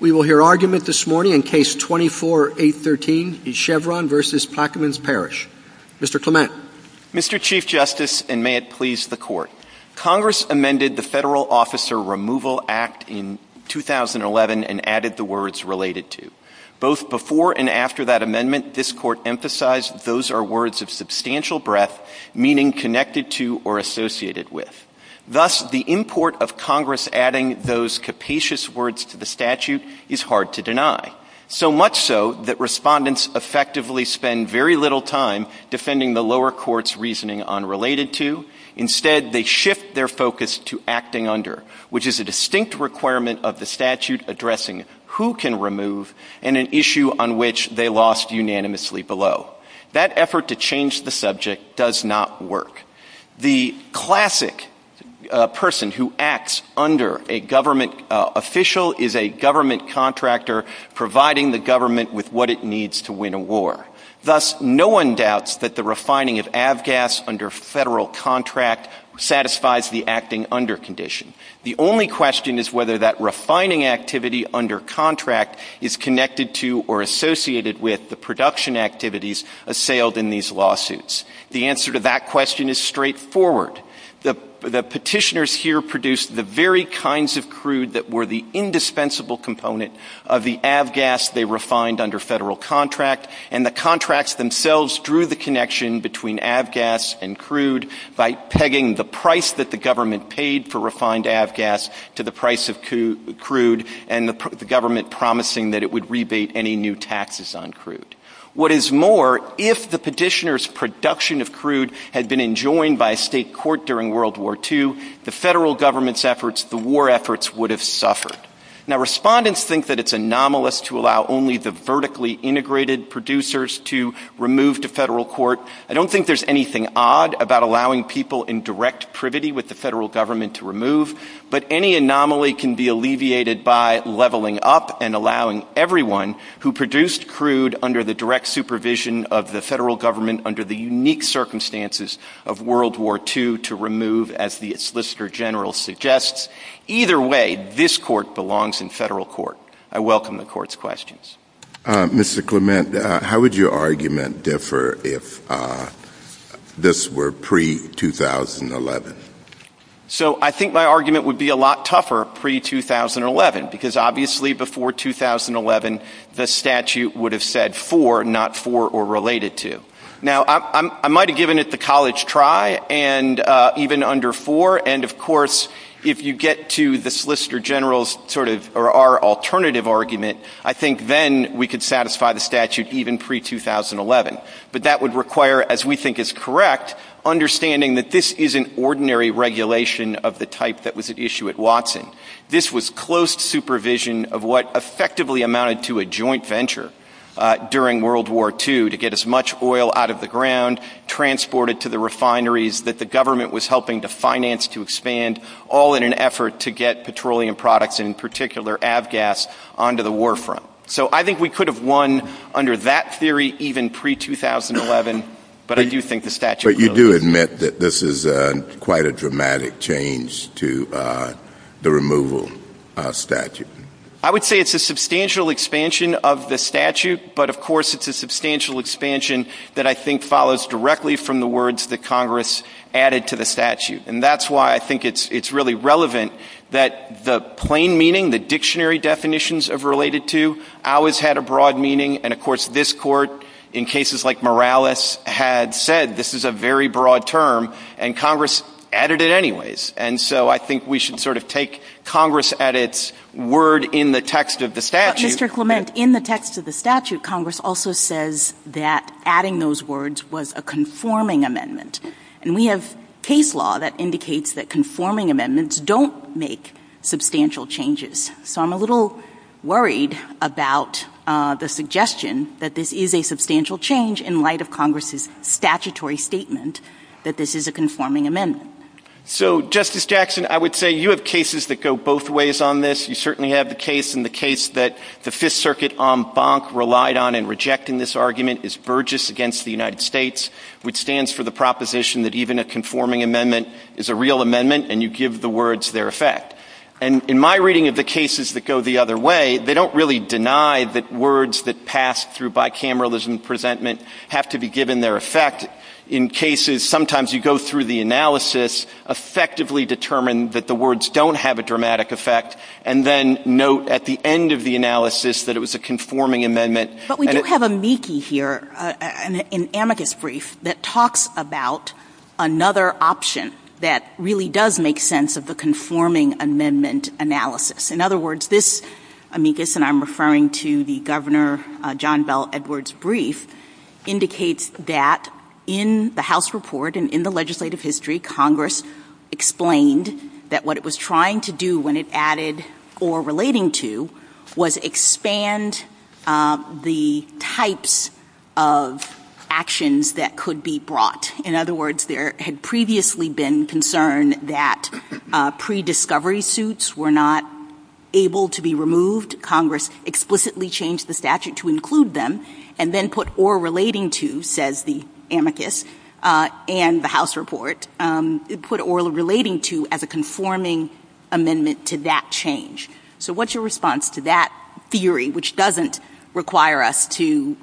We will hear argument this morning in Case 24-813 in Chevron v. Plaquemines Parish. Mr. Clement. Mr. Chief Justice, and may it please the Court, Congress amended the Federal Officer Removal Act in 2011 and added the words related to. Both before and after that amendment, this Court emphasized those are words of substantial breadth, meaning connected to or associated with. Thus, the import of Congress adding those capacious words to the statute is hard to deny, so much so that respondents effectively spend very little time defending the lower court's reasoning unrelated to. Instead, they shift their focus to acting under, which is a distinct requirement of the statute addressing who can remove and an issue on which they lost unanimously below. That effort to change the subject does not work. The classic person who acts under a government official is a government contractor providing the government with what it needs to win a war. Thus, no one doubts that the refining of avgas under Federal contract satisfies the acting under condition. The only question is whether that refining activity under contract is connected to or associated with the production activities assailed in these lawsuits. The answer to that question is straightforward. The petitioners here produced the very kinds of crude that were the indispensable component of the avgas they refined under Federal contract, and the contracts themselves drew the connection between avgas and crude by pegging the price that the government paid for refined avgas to the price of crude and the government promising that it would rebate any new taxes on crude. What is more, if the petitioners' production of crude had been enjoined by a state court during World War II, the Federal government's efforts, the war efforts, would have suffered. Now, respondents think that it's anomalous to allow only the vertically integrated producers to remove to Federal court. I don't think there's anything odd about allowing people in direct privity with the Federal government to remove, but any anomaly can be alleviated by leveling up and allowing everyone who produced crude under the direct supervision of the Federal government under the unique circumstances of World War II to remove, as the Solicitor General suggests. Either way, this court belongs in Federal court. I welcome the court's questions. Mr. Clement, how would your argument differ if this were pre-2011? So, I think my argument would be a lot tougher pre-2011, because obviously before 2011 the statute would have said for, not for or related to. Now, I might have given it the college try, and even under for, and of course if you get to the Solicitor General's sort of, or our alternative argument, I think then we could satisfy the statute even pre-2011. But that would require, as we think is correct, understanding that this isn't ordinary regulation of the type that was at issue at Watson. This was close supervision of what effectively amounted to a joint venture during World War II to get as much oil out of the ground, transported to the refineries, that the government was helping to finance to expand, all in an effort to get petroleum products, in particular avgas, onto the war front. So I think we could have won under that theory even pre-2011, but I do think the statute would have won. But you do admit that this is quite a dramatic change to the removal statute. I would say it's a substantial expansion of the statute, but of course it's a substantial expansion that I think follows directly from the words that Congress added to the statute. And that's why I think it's really relevant that the plain meaning, the dictionary definitions of related to, always had a broad meaning, and of course this Court, in cases like Morales, had said this is a very broad term, and Congress added it anyways. And so I think we should sort of take Congress at its word in the text of the statute. But Mr. Clement, in the text of the statute, Congress also says that adding those words was a conforming amendment. And we have case law that indicates that conforming amendments don't make substantial changes. So I'm a little worried about the suggestion that this is a substantial change in light of Congress's statutory statement that this is a conforming amendment. So, Justice Jackson, I would say you have cases that go both ways on this. You certainly have the case, and the case that the Fifth Circuit en banc relied on and rejected in this argument is Burgess v. United States, which stands for the proposition that even a conforming amendment is a real amendment and you give the words their effect. And in my reading of the cases that go the other way, they don't really deny that words that pass through bicameralism presentment have to be given their effect. In cases, sometimes you go through the analysis, effectively determine that the words don't have a dramatic effect, and then note at the end of the analysis that it was a conforming amendment. But we do have amicus here, an amicus brief that talks about another option that really does make sense of the conforming amendment analysis. In other words, this amicus, and I'm referring to the Governor John Bel Edwards brief, indicates that in the House report and in the legislative history, Congress explained that what it was trying to do when it added or relating to was expand the types of actions that could be brought. In other words, there had previously been concern that pre-discovery suits were not able to be removed. Congress explicitly changed the statute to include them and then put or relating to, says the amicus and the House report, it put or relating to as a conforming amendment to that change. So what's your response to that theory, which doesn't require us to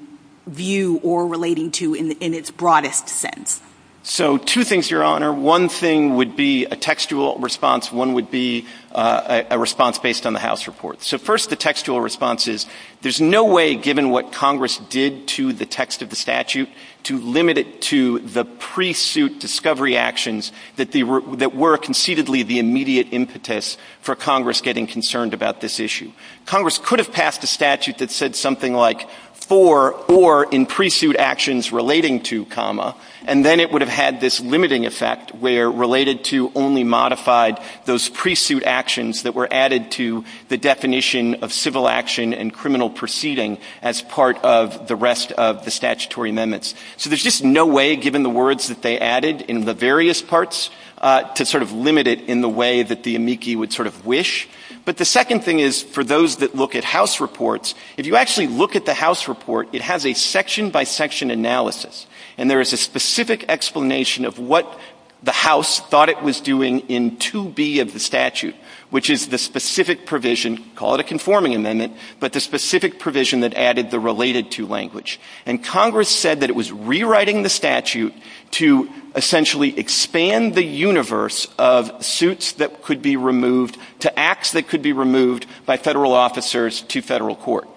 view or relating to in its broadest sense? So two things, Your Honor. One thing would be a textual response. One would be a response based on the House report. So first, the textual response is there's no way, given what Congress did to the text of the statute, to limit it to the pre-suit discovery actions that were concededly the immediate impetus for Congress getting concerned about this issue. Congress could have passed a statute that said something like for or in pre-suit actions relating to, and then it would have had this limiting effect where related to only modified those pre-suit actions that were added to the definition of civil action and criminal proceeding as part of the rest of the statutory amendments. So there's just no way, given the words that they added in the various parts, to sort of limit it in the way that the amici would sort of wish. But the second thing is, for those that look at House reports, if you actually look at the House report, it has a section-by-section analysis, and there is a specific explanation of what the House thought it was doing in 2B of the statute, which is the specific provision, call it a conforming amendment, but the specific provision that added the related to language. And Congress said that it was rewriting the statute to essentially expand the universe of suits that could be removed to acts that could be removed by federal officers to federal court.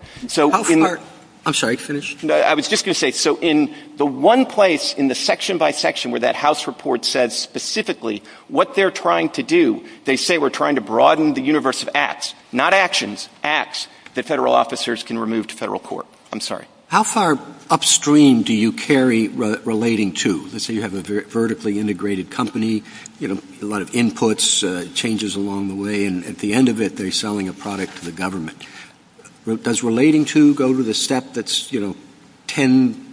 I'm sorry, finish. I was just going to say, so in the one place in the section-by-section where that House report says specifically what they're trying to do, they say we're trying to broaden the universe of acts, not actions, acts, that federal officers can remove to federal court. I'm sorry. How far upstream do you carry relating to? Let's say you have a vertically integrated company, a lot of inputs, changes along the way, and at the end of it, they're selling a product to the government. Does relating to go to the step that's 10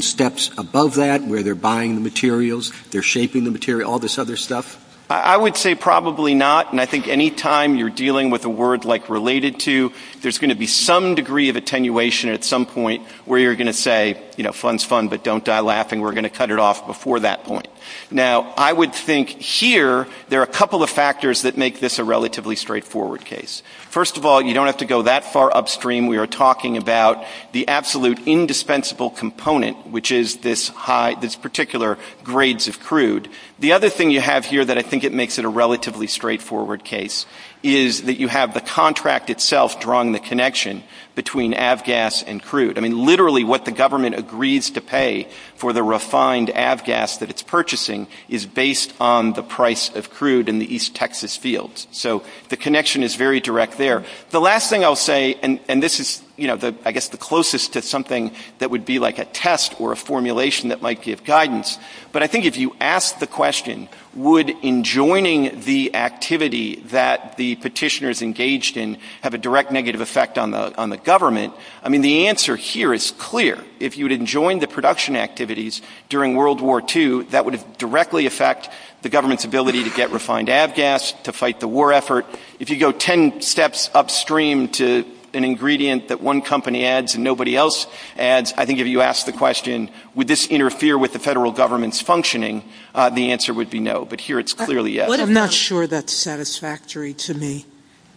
steps above that, where they're buying the materials, they're shaping the material, all this other stuff? I would say probably not, and I think any time you're dealing with a word like related to, there's going to be some degree of attenuation at some point where you're going to say, you know, fun's fun, but don't die laughing. We're going to cut it off before that point. Now, I would think here there are a couple of factors that make this a relatively straightforward case. First of all, you don't have to go that far upstream. We are talking about the absolute indispensable component, which is this particular grades of crude. The other thing you have here that I think it makes it a relatively straightforward case is that you have the contract itself drawing the connection between avgas and crude. I mean, literally what the government agrees to pay for the refined avgas that it's purchasing is based on the price of crude in the East Texas field, so the connection is very direct there. The last thing I'll say, and this is, you know, I guess the closest to something that would be like a test or a formulation that might give guidance, but I think if you ask the question, would enjoining the activity that the petitioners engaged in have a direct negative effect on the government, I mean, the answer here is clear. If you'd enjoined the production activities during World War II, that would directly affect the government's ability to get refined avgas, to fight the war effort. If you go 10 steps upstream to an ingredient that one company adds and nobody else adds, I think if you ask the question, would this interfere with the federal government's functioning, the answer would be no, but here it's clearly yes. I'm not sure that's satisfactory to me.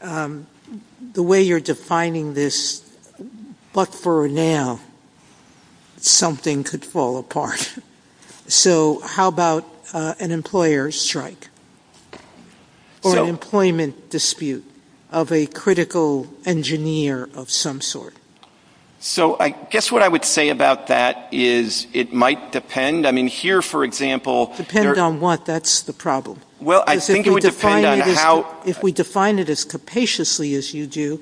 The way you're defining this, but for now, something could fall apart. So how about an employer strike or an employment dispute of a critical engineer of some sort? So I guess what I would say about that is it might depend. I mean, here, for example... Depend on what? That's the problem. Well, I think it would depend on how... If we define it as capaciously as you do,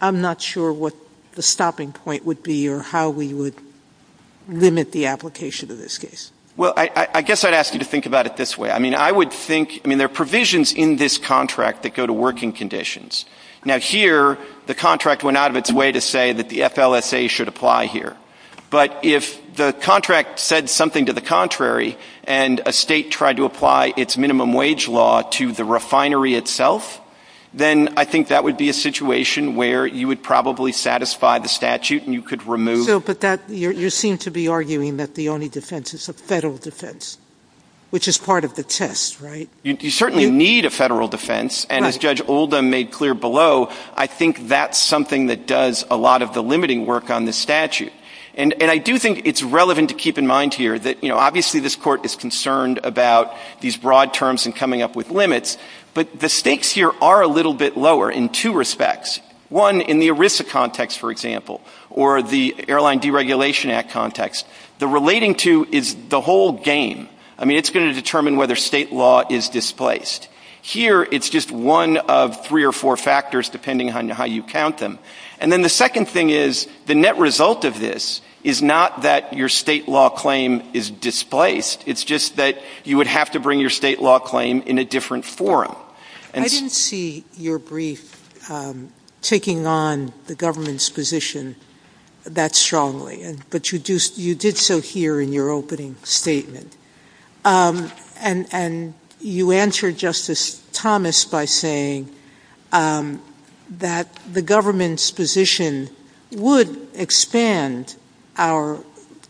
I'm not sure what the stopping point would be or how we would limit the application of this case. Well, I guess I'd ask you to think about it this way. I mean, I would think, I mean, there are provisions in this contract that go to working conditions. Now, here, the contract went out of its way to say that the FLSA should apply here. But if the contract said something to the contrary and a state tried to apply its minimum wage law to the refinery itself, then I think that would be a situation where you would probably satisfy the statute and you could remove... But you seem to be arguing that the only defense is a federal defense, which is part of the test, right? You certainly need a federal defense. And as Judge Oldham made clear below, I think that's something that does a lot of the limiting work on this statute. And I do think it's relevant to keep in mind here that, you know, obviously this court is concerned about these broad terms and coming up with limits, but the stakes here are a little bit lower in two respects. One, in the ERISA context, for example, or the Airline Deregulation Act context, the relating to is the whole game. I mean, it's going to determine whether state law is displaced. Here, it's just one of three or four factors, depending on how you count them. And then the second thing is the net result of this is not that your state law claim is displaced. It's just that you would have to bring your state law claim in a different forum. I didn't see your brief taking on the government's position that strongly, but you did so here in your opening statement. And you answered Justice Thomas by saying that the government's position would expand our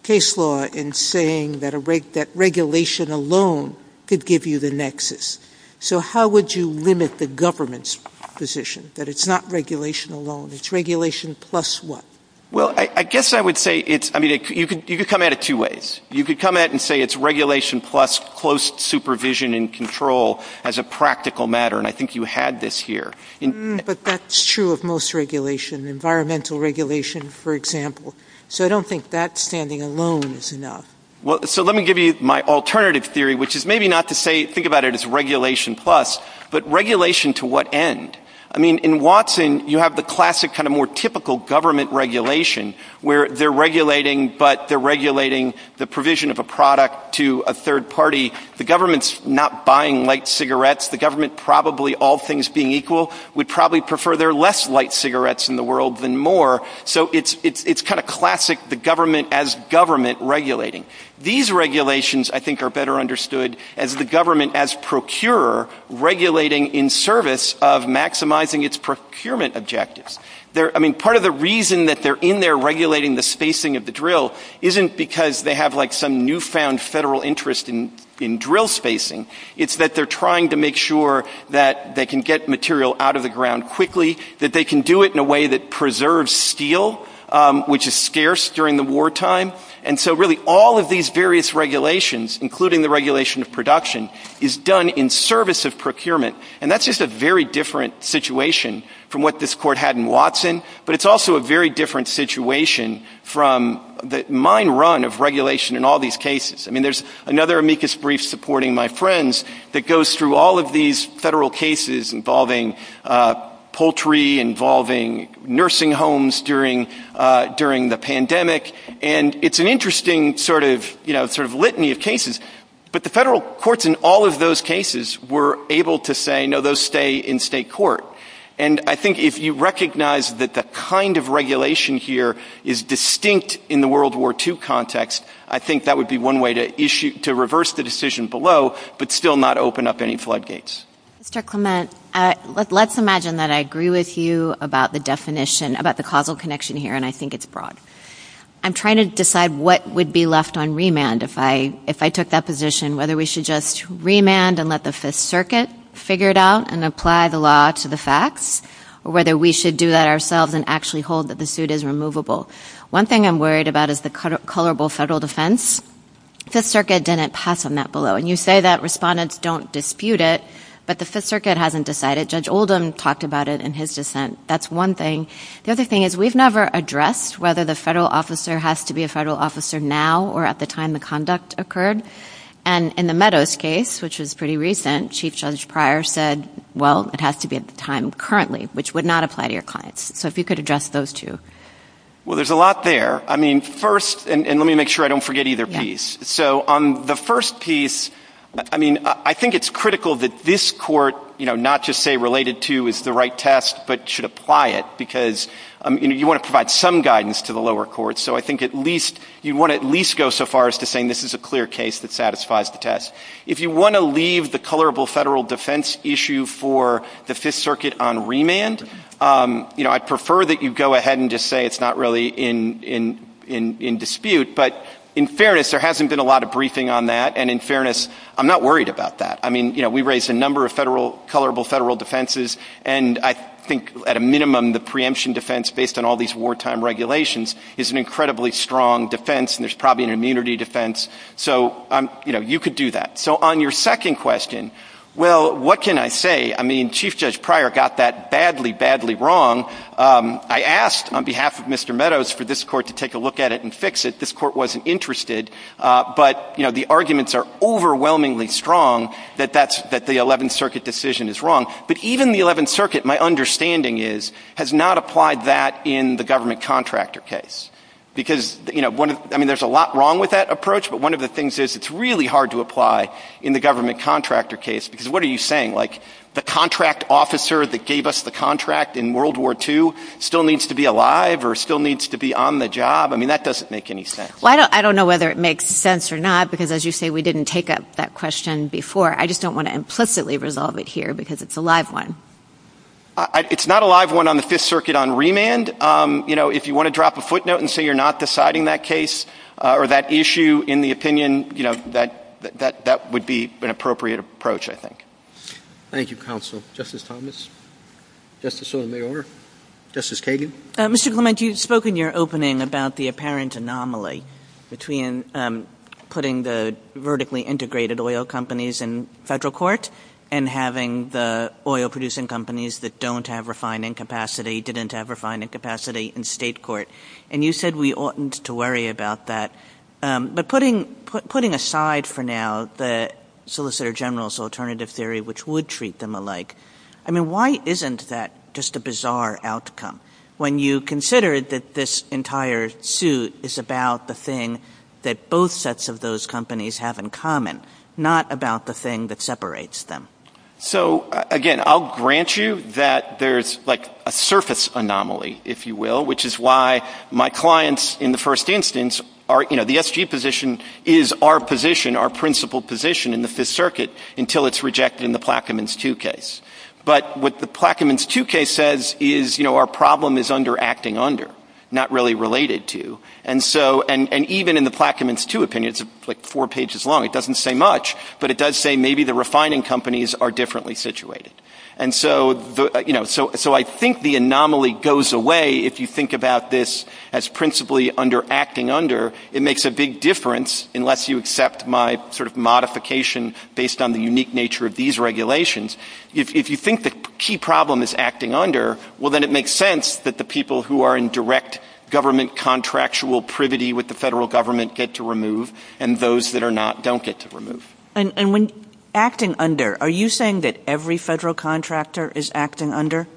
case law in saying that regulation alone could give you the nexus. So how would you limit the government's position, that it's not regulation alone? It's regulation plus what? Well, I guess I would say it's – I mean, you could come at it two ways. You could come at it and say it's regulation plus close supervision and control as a practical matter, and I think you had this here. But that's true of most regulation, environmental regulation, for example. So I don't think that standing alone is enough. So let me give you my alternative theory, which is maybe not to say – think about it as regulation plus, but regulation to what end? I mean, in Watson, you have the classic kind of more typical government regulation, where they're regulating, but they're regulating the provision of a product to a third party. The government's not buying light cigarettes. The government, probably all things being equal, would probably prefer there are less light cigarettes in the world than more. So it's kind of classic, the government as government regulating. These regulations, I think, are better understood as the government as procurer regulating in service of maximizing its procurement objectives. I mean, part of the reason that they're in there regulating the spacing of the drill isn't because they have, like, some newfound federal interest in drill spacing. It's that they're trying to make sure that they can get material out of the ground quickly, that they can do it in a way that preserves steel, which is scarce during the wartime. And so, really, all of these various regulations, including the regulation of production, is done in service of procurement. And that's just a very different situation from what this court had in Watson, but it's also a very different situation from the mine run of regulation in all these cases. I mean, there's another amicus brief supporting my friends that goes through all of these federal cases involving poultry, involving nursing homes during the pandemic, and it's an interesting sort of litany of cases. But the federal courts in all of those cases were able to say, no, those stay in state court. And I think if you recognize that the kind of regulation here is distinct in the World War II context, I think that would be one way to reverse the decision below but still not open up any floodgates. Mr. Clement, let's imagine that I agree with you about the definition, about the causal connection here, and I think it's broad. I'm trying to decide what would be left on remand if I took that position, whether we should just remand and let the Fifth Circuit figure it out and apply the law to the facts, or whether we should do that ourselves and actually hold that the suit is removable. One thing I'm worried about is the colorable federal defense. Fifth Circuit didn't pass on that below. And you say that respondents don't dispute it, but the Fifth Circuit hasn't decided. Judge Oldham talked about it in his dissent. That's one thing. The other thing is we've never addressed whether the federal officer has to be a federal officer now or at the time the conduct occurred. And in the Meadows case, which was pretty recent, Chief Judge Pryor said, well, it has to be at the time currently, which would not apply to your clients. So if you could address those two. Well, there's a lot there. I mean, first, and let me make sure I don't forget either piece. So on the first piece, I mean, I think it's critical that this court, you know, not to say related to is the right test but should apply it because you want to provide some guidance to the lower courts. So I think at least you want to at least go so far as to saying this is a clear case that satisfies the test. If you want to leave the colorable federal defense issue for the Fifth Circuit on remand, you know, I'd prefer that you go ahead and just say it's not really in dispute. But in fairness, there hasn't been a lot of briefing on that, and in fairness, I'm not worried about that. I mean, you know, we raised a number of federal, colorable federal defenses, and I think at a minimum the preemption defense based on all these wartime regulations is an incredibly strong defense, and there's probably an immunity defense. So, you know, you could do that. So on your second question, well, what can I say? I mean, Chief Judge Pryor got that badly, badly wrong. I asked on behalf of Mr. Meadows for this court to take a look at it and fix it. This court wasn't interested. But, you know, the arguments are overwhelmingly strong that the Eleventh Circuit decision is wrong. But even the Eleventh Circuit, my understanding is, has not applied that in the government contractor case because, you know, I mean, there's a lot wrong with that approach, but one of the things is it's really hard to apply in the government contractor case because what are you saying? Like the contract officer that gave us the contract in World War II still needs to be alive or still needs to be on the job? I mean, that doesn't make any sense. Well, I don't know whether it makes sense or not because, as you say, we didn't take up that question before. I just don't want to implicitly resolve it here because it's a live one. It's not a live one on the Fifth Circuit on remand. You know, if you want to drop a footnote and say you're not deciding that case or that issue in the opinion, you know, that would be an appropriate approach, I think. Thank you, counsel. Justice Thomas? Justice Sotomayor? Justice Kagan? Mr. Clement, you spoke in your opening about the apparent anomaly between putting the vertically integrated oil companies in federal court and having the oil-producing companies that don't have refining capacity, didn't have refining capacity in state court. And you said we oughtn't to worry about that. But putting aside for now the Solicitor General's alternative theory, which would treat them alike, I mean, why isn't that just a bizarre outcome when you consider that this entire suit is about the thing that both sets of those companies have in common, not about the thing that separates them? So, again, I'll grant you that there's, like, a surface anomaly, if you will, which is why my clients in the first instance are, you know, the SG position is our position, our principal position in the Fifth Circuit until it's rejected in the Plaquemines 2 case. But what the Plaquemines 2 case says is, you know, our problem is under acting under, not really related to. And so, and even in the Plaquemines 2 opinion, it's like four pages long, it doesn't say much, but it does say maybe the refining companies are differently situated. And so, you know, so I think the anomaly goes away if you think about this as principally under acting under. It makes a big difference unless you accept my sort of modification based on the unique nature of these regulations. If you think the key problem is acting under, well, then it makes sense that the people who are in direct government contractual privity with the federal government get to remove and those that are not don't get to remove. And when acting under, are you saying that every federal contractor is acting under?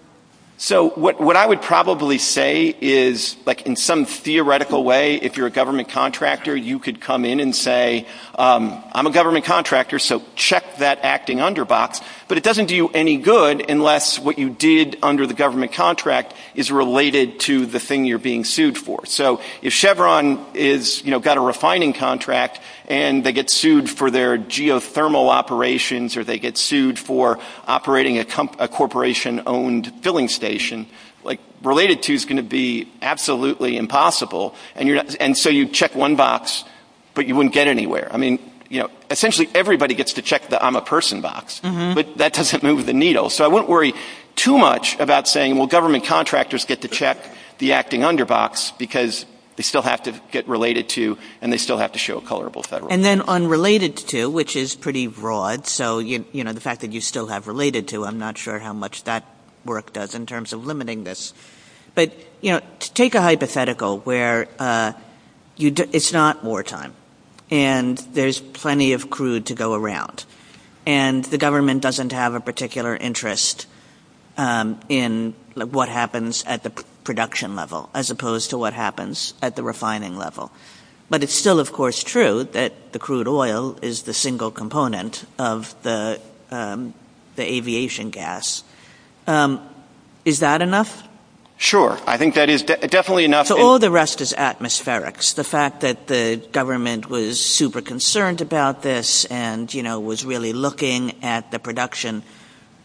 So what I would probably say is, like in some theoretical way, if you're a government contractor, you could come in and say, I'm a government contractor, so check that acting under box. But it doesn't do you any good unless what you did under the government contract is related to the thing you're being sued for. So if Chevron is, you know, got a refining contract and they get sued for their geothermal operations or they get sued for operating a corporation-owned filling station, like related to is going to be absolutely impossible. And so you check one box, but you wouldn't get anywhere. I mean, you know, essentially everybody gets to check the I'm a person box, but that doesn't move the needle. So I wouldn't worry too much about saying, well, government contractors get to check the acting under box because they still have to get related to and they still have to show a colorable federal. And then unrelated to, which is pretty broad. So, you know, the fact that you still have related to, I'm not sure how much that work does in terms of limiting this. But, you know, take a hypothetical where it's not wartime and there's plenty of crude to go around and the government doesn't have a particular interest in what happens at the production level, as opposed to what happens at the refining level. But it's still, of course, true that the crude oil is the single component of the aviation gas. Is that enough? Sure. I think that is definitely enough. So all the rest is atmospherics. The fact that the government was super concerned about this and, you know, was really looking at the production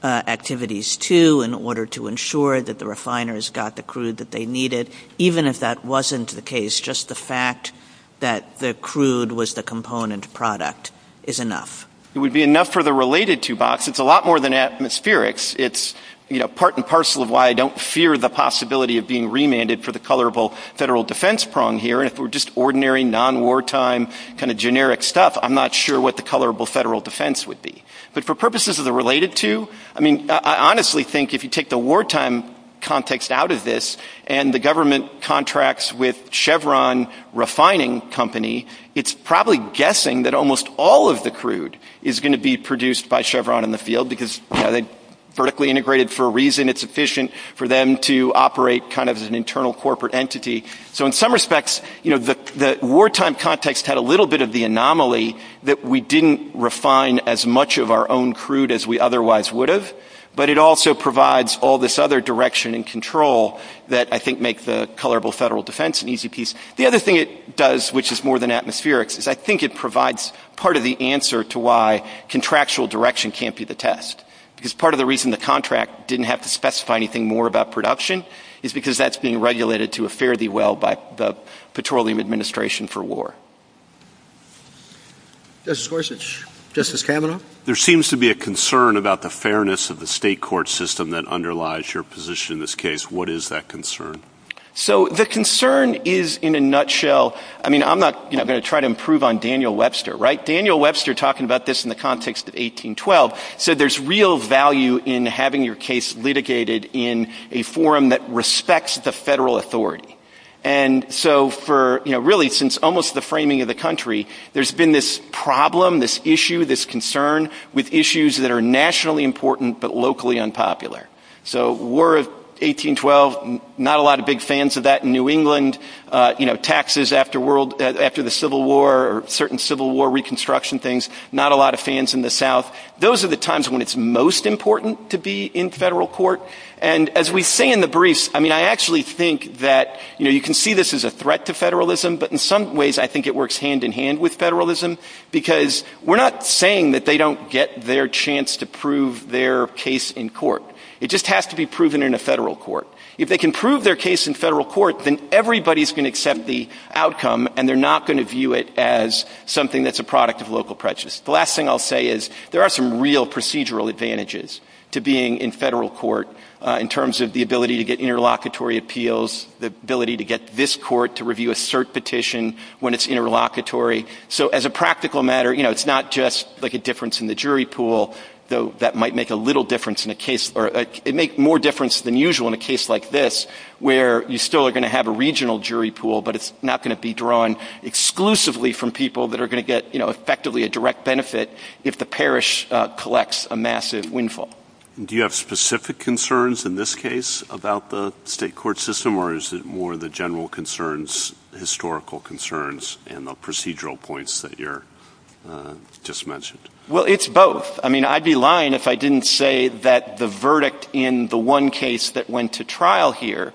activities too in order to ensure that the refiners got the crude that they needed. Even if that wasn't the case, just the fact that the crude was the component product is enough. It would be enough for the related to box. It's a lot more than atmospherics. It's, you know, part and parcel of why I don't fear the possibility of being remanded for the colorable federal defense prong here. If it were just ordinary non-wartime kind of generic stuff, I'm not sure what the colorable federal defense would be. But for purposes of the related to, I mean, I honestly think if you take the wartime context out of this and the government contracts with Chevron refining company, it's probably guessing that almost all of the crude is going to be produced by Chevron in the field because they vertically integrated for a reason. It's efficient for them to operate kind of as an internal corporate entity. So in some respects, you know, the wartime context had a little bit of the anomaly that we didn't refine as much of our own crude as we otherwise would have. But it also provides all this other direction and control that I think make the colorable federal defense an easy piece. The other thing it does, which is more than atmospheric, is I think it provides part of the answer to why contractual direction can't be the test. Because part of the reason the contract didn't have to specify anything more about production is because that's being regulated to a fare-thee-well by the Petroleum Administration for war. Justice Gorsuch. Justice Kavanaugh. There seems to be a concern about the fairness of the state court system that underlies your position in this case. What is that concern? So the concern is, in a nutshell, I mean, I'm not going to try to improve on Daniel Webster, right? Daniel Webster, talking about this in the context of 1812, said there's real value in having your case litigated in a forum that respects the federal authority. And so for, you know, really since almost the framing of the country, there's been this problem, this issue, this concern, with issues that are nationally important but locally unpopular. So War of 1812, not a lot of big fans of that in New England. You know, taxes after the Civil War or certain Civil War reconstruction things, not a lot of fans in the South. Those are the times when it's most important to be in federal court. And as we say in the briefs, I mean, I actually think that, you know, you can see this as a threat to federalism, but in some ways I think it works hand in hand with federalism because we're not saying that they don't get their chance to prove their case in court. It just has to be proven in a federal court. If they can prove their case in federal court, then everybody's going to accept the outcome and they're not going to view it as something that's a product of local prejudice. The last thing I'll say is there are some real procedural advantages to being in federal court in terms of the ability to get interlocutory appeals, the ability to get this court to review a cert petition when it's interlocutory. So as a practical matter, you know, it's not just like a difference in the jury pool, though that might make a little difference in a case, or it makes more difference than usual in a case like this where you still are going to have a regional jury pool, but it's not going to be drawn exclusively from people that are going to get, you know, effectively a direct benefit if the parish collects a massive windfall. Do you have specific concerns in this case about the state court system, or is it more the general concerns, historical concerns, and the procedural points that you just mentioned? Well, it's both. I mean, I'd be lying if I didn't say that the verdict in the one case that went to trial here,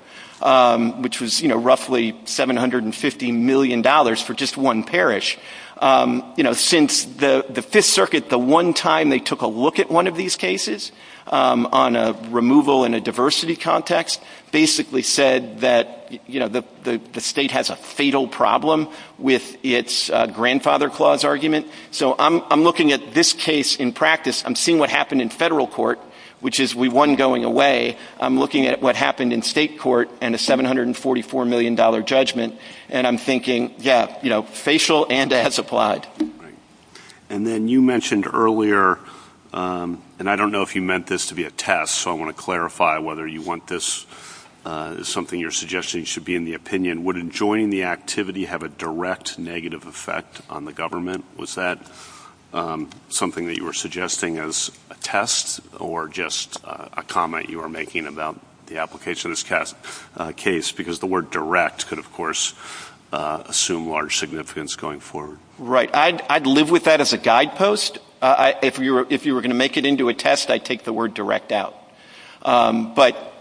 which was, you know, roughly $750 million for just one parish, you know, since the Fifth Circuit, the one time they took a look at one of these cases on a removal in a diversity context, basically said that, you know, the state has a fatal problem with its grandfather clause argument. So I'm looking at this case in practice. I'm seeing what happened in federal court, which is we won going away. I'm looking at what happened in state court and a $744 million judgment, and I'm thinking, yeah, you know, facial and ads applied. And then you mentioned earlier, and I don't know if you meant this to be a test, so I want to clarify whether you want this as something your suggestion should be in the opinion. Would enjoining the activity have a direct negative effect on the government? Was that something that you were suggesting as a test or just a comment you were making about the application of this case? Because the word direct could, of course, assume large significance going forward. Right. I'd live with that as a guidepost. If you were going to make it into a test, I'd take the word direct out. But,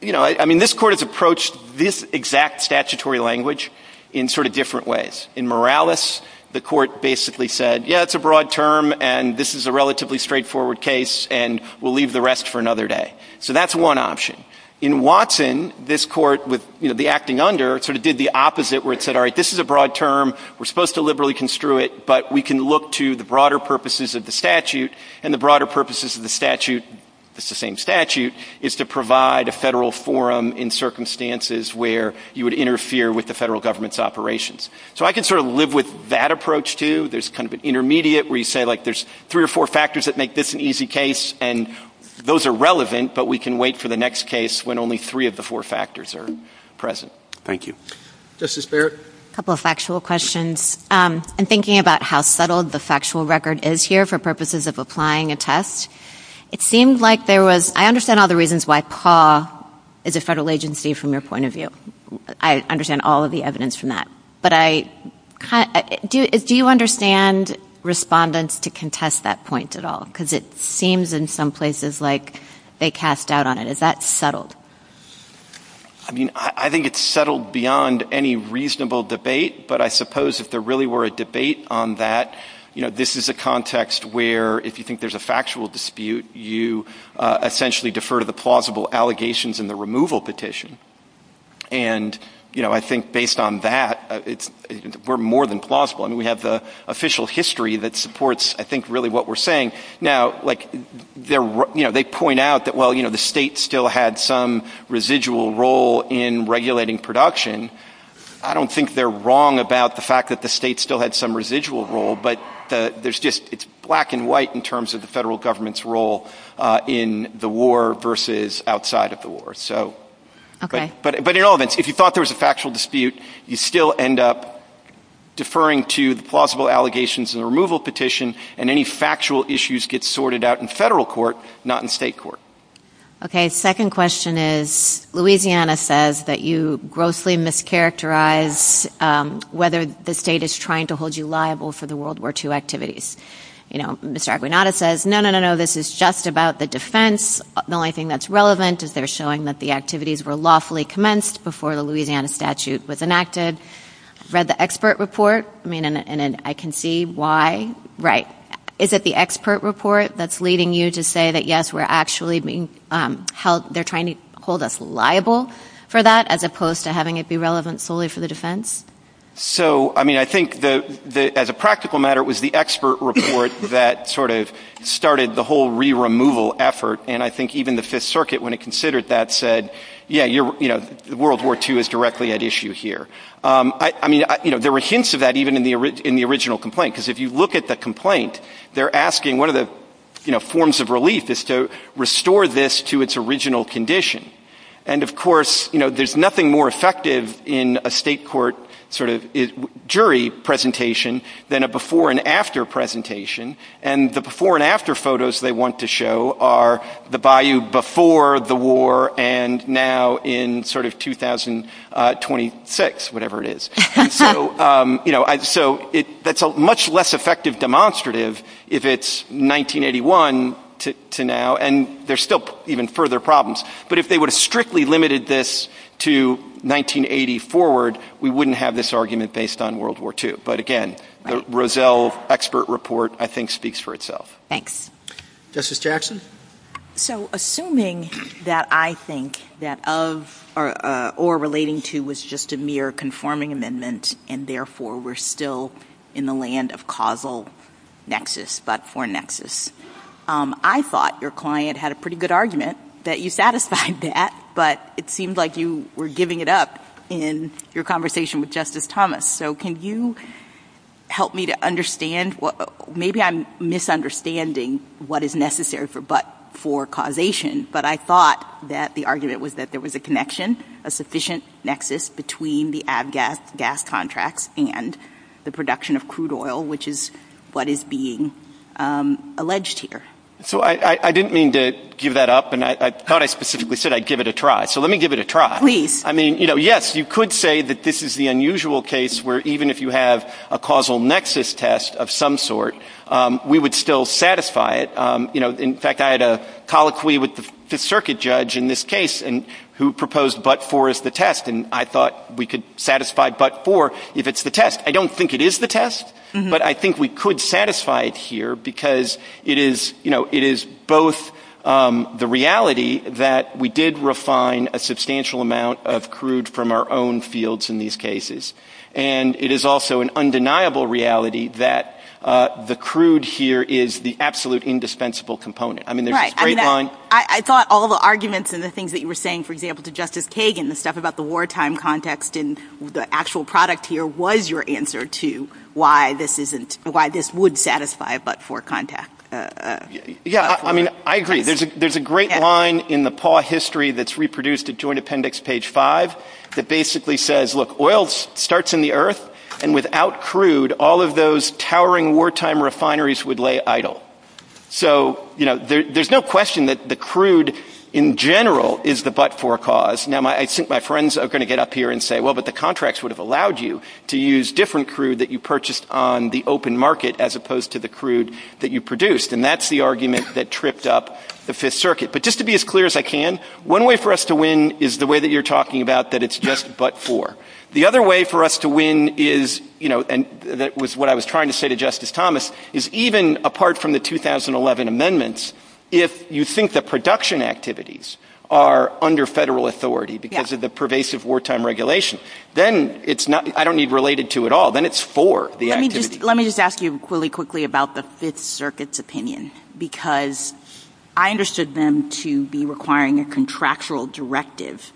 you know, I mean, this Court has approached this exact statutory language in sort of different ways. In Morales, the Court basically said, yeah, it's a broad term, and this is a relatively straightforward case, and we'll leave the rest for another day. So that's one option. In Watson, this Court with, you know, the acting under sort of did the opposite, where it said, all right, this is a broad term, we're supposed to liberally construe it, but we can look to the broader purposes of the statute, and the broader purposes of the statute, it's the same statute, is to provide a federal forum in circumstances where you would interfere with the federal government's operations. So I can sort of live with that approach, too. There's kind of an intermediate where you say, like, there's three or four factors that make this an easy case, and those are relevant, but we can wait for the next case when only three of the four factors are present. Thank you. Justice Barrett? A couple of factual questions. I'm thinking about how subtle the factual record is here for purposes of applying a test. It seems like there was — I understand all the reasons why PAW is a federal agency from your point of view. I understand all of the evidence from that. But I — do you understand respondents to contest that point at all? Because it seems in some places like they cast doubt on it. Is that subtle? I mean, I think it's subtle beyond any reasonable debate, but I suppose if there really were a debate on that, you know, this is a context where if you think there's a factual dispute, you essentially defer to the plausible allegations in the removal petition. And, you know, I think based on that, we're more than plausible. I mean, we have the official history that supports, I think, really what we're saying. Now, like, you know, they point out that, well, you know, the state still had some residual role in regulating production. I don't think they're wrong about the fact that the state still had some residual role, but there's just — it's black and white in terms of the federal government's role in the war versus outside of the war. So — but in all events, if you thought there was a factual dispute, you still end up deferring to the plausible allegations in the removal petition, and any factual issues get sorted out in federal court, not in state court. Okay. Second question is Louisiana says that you grossly mischaracterize whether the state is trying to hold you liable for the World War II activities. You know, Mr. Arbuinata says, no, no, no, no, this is just about the defense. The only thing that's relevant is they're showing that the activities were lawfully commenced before the Louisiana statute was enacted. I read the expert report, and I can see why. Right. Is it the expert report that's leading you to say that, yes, we're actually being held — they're trying to hold us liable for that as opposed to having it be relevant solely for the defense? So, I mean, I think as a practical matter, it was the expert report that sort of started the whole re-removal effort, and I think even the Fifth Circuit, when it considered that, said, yeah, you know, World War II is directly at issue here. I mean, you know, there were hints of that even in the original complaint, because if you look at the complaint, they're asking — one of the, you know, forms of relief is to restore this to its original condition. And, of course, you know, there's nothing more effective in a state court sort of jury presentation than a before-and-after presentation, and the before-and-after photos they want to show are the bayou before the war and now in sort of 2026, whatever it is. And so, you know, that's a much less effective demonstrative if it's 1981 to now, and there's still even further problems. But if they would have strictly limited this to 1980 forward, we wouldn't have this argument based on World War II. But, again, the Rozelle expert report, I think, speaks for itself. Justice Jackson? So, assuming that I think that of or relating to was just a mere conforming amendment and, therefore, we're still in the land of causal nexus but for nexus, I thought your client had a pretty good argument that you satisfied that, but it seemed like you were giving it up in your conversation with Justice Thomas. So can you help me to understand? Maybe I'm misunderstanding what is necessary for causation, but I thought that the argument was that there was a connection, a sufficient nexus between the ag gas contracts and the production of crude oil, which is what is being alleged here. So I didn't mean to give that up, and I thought I specifically said I'd give it a try. So let me give it a try. Please. I mean, yes, you could say that this is the unusual case where even if you have a causal nexus test of some sort, we would still satisfy it. In fact, I had a colloquy with the circuit judge in this case who proposed but for as the test, and I thought we could satisfy but for if it's the test. I don't think it is the test, but I think we could satisfy it here because it is both the reality that we did refine a substantial amount of crude from our own fields in these cases, and it is also an undeniable reality that the crude here is the absolute indispensable component. I mean, there's this great line. I thought all the arguments and the things that you were saying, for example, to Justice Kagan and stuff about the wartime context and the actual product here was your answer to why this would satisfy but for contact. Yeah, I mean, I agree. There's a great line in the PAW history that's reproduced at Joint Appendix Page 5 that basically says, look, oil starts in the earth, and without crude, all of those towering wartime refineries would lay idle. So, you know, there's no question that the crude in general is the but for cause. Now, I think my friends are going to get up here and say, well, but the contracts would have allowed you to use different crude that you purchased on the open market as opposed to the crude that you produced, and that's the argument that tripped up the Fifth Circuit. But just to be as clear as I can, one way for us to win is the way that you're talking about that it's just but for. The other way for us to win is, you know, and that was what I was trying to say to Justice Thomas, is even apart from the 2011 amendments, if you think the production activities are under federal authority because of the pervasive wartime regulation, then it's not, I don't need related to at all, then it's for the activity. Let me just ask you really quickly about the Fifth Circuit's opinion, because I understood them to be requiring a contractual directive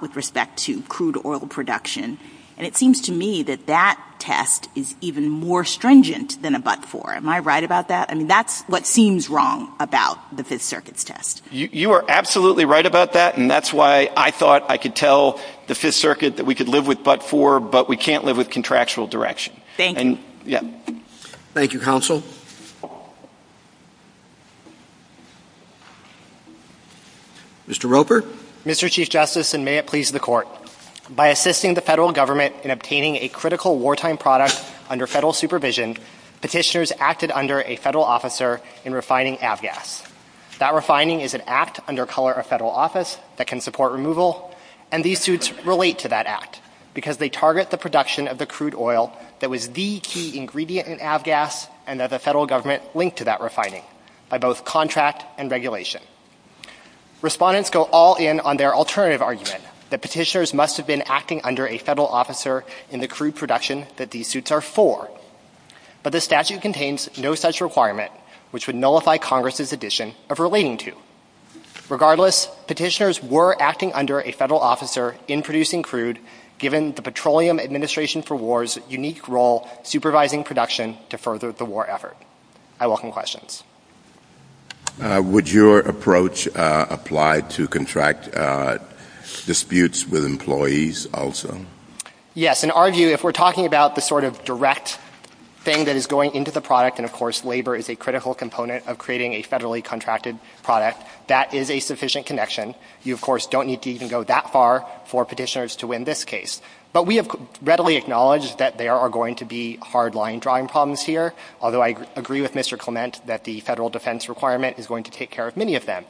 with respect to crude oil production, and it seems to me that that test is even more stringent than a but for. Am I right about that? I mean, that's what seems wrong about the Fifth Circuit's test. You are absolutely right about that, and that's why I thought I could tell the Fifth Circuit that we could live with but for, but we can't live with contractual direction. Thank you. Thank you, Counsel. Mr. Roper? Mr. Chief Justice, and may it please the Court. By assisting the federal government in obtaining a critical wartime product under federal supervision, petitioners acted under a federal officer in refining avgas. That refining is an act under color of federal office that can support removal, and these suits relate to that act because they target the production of the crude oil that was the key ingredient in avgas, and that the federal government linked to that refining by both contract and regulation. Respondents go all in on their alternative argument, that petitioners must have been acting under a federal officer in the crude production that these suits are for, but the statute contains no such requirement, which would nullify Congress's addition of relating to. Regardless, petitioners were acting under a federal officer in producing crude, given the Petroleum Administration for War's unique role supervising production to further the war effort. I welcome questions. Would your approach apply to contract disputes with employees also? Yes. In our view, if we're talking about the sort of direct thing that is going into the product, and, of course, labor is a critical component of creating a federally contracted product, that is a sufficient connection. You, of course, don't need to even go that far for petitioners to win this case. But we have readily acknowledged that there are going to be hard-line drawing problems here, although I agree with Mr. Clement that the federal defense requirement is going to take care of many of them.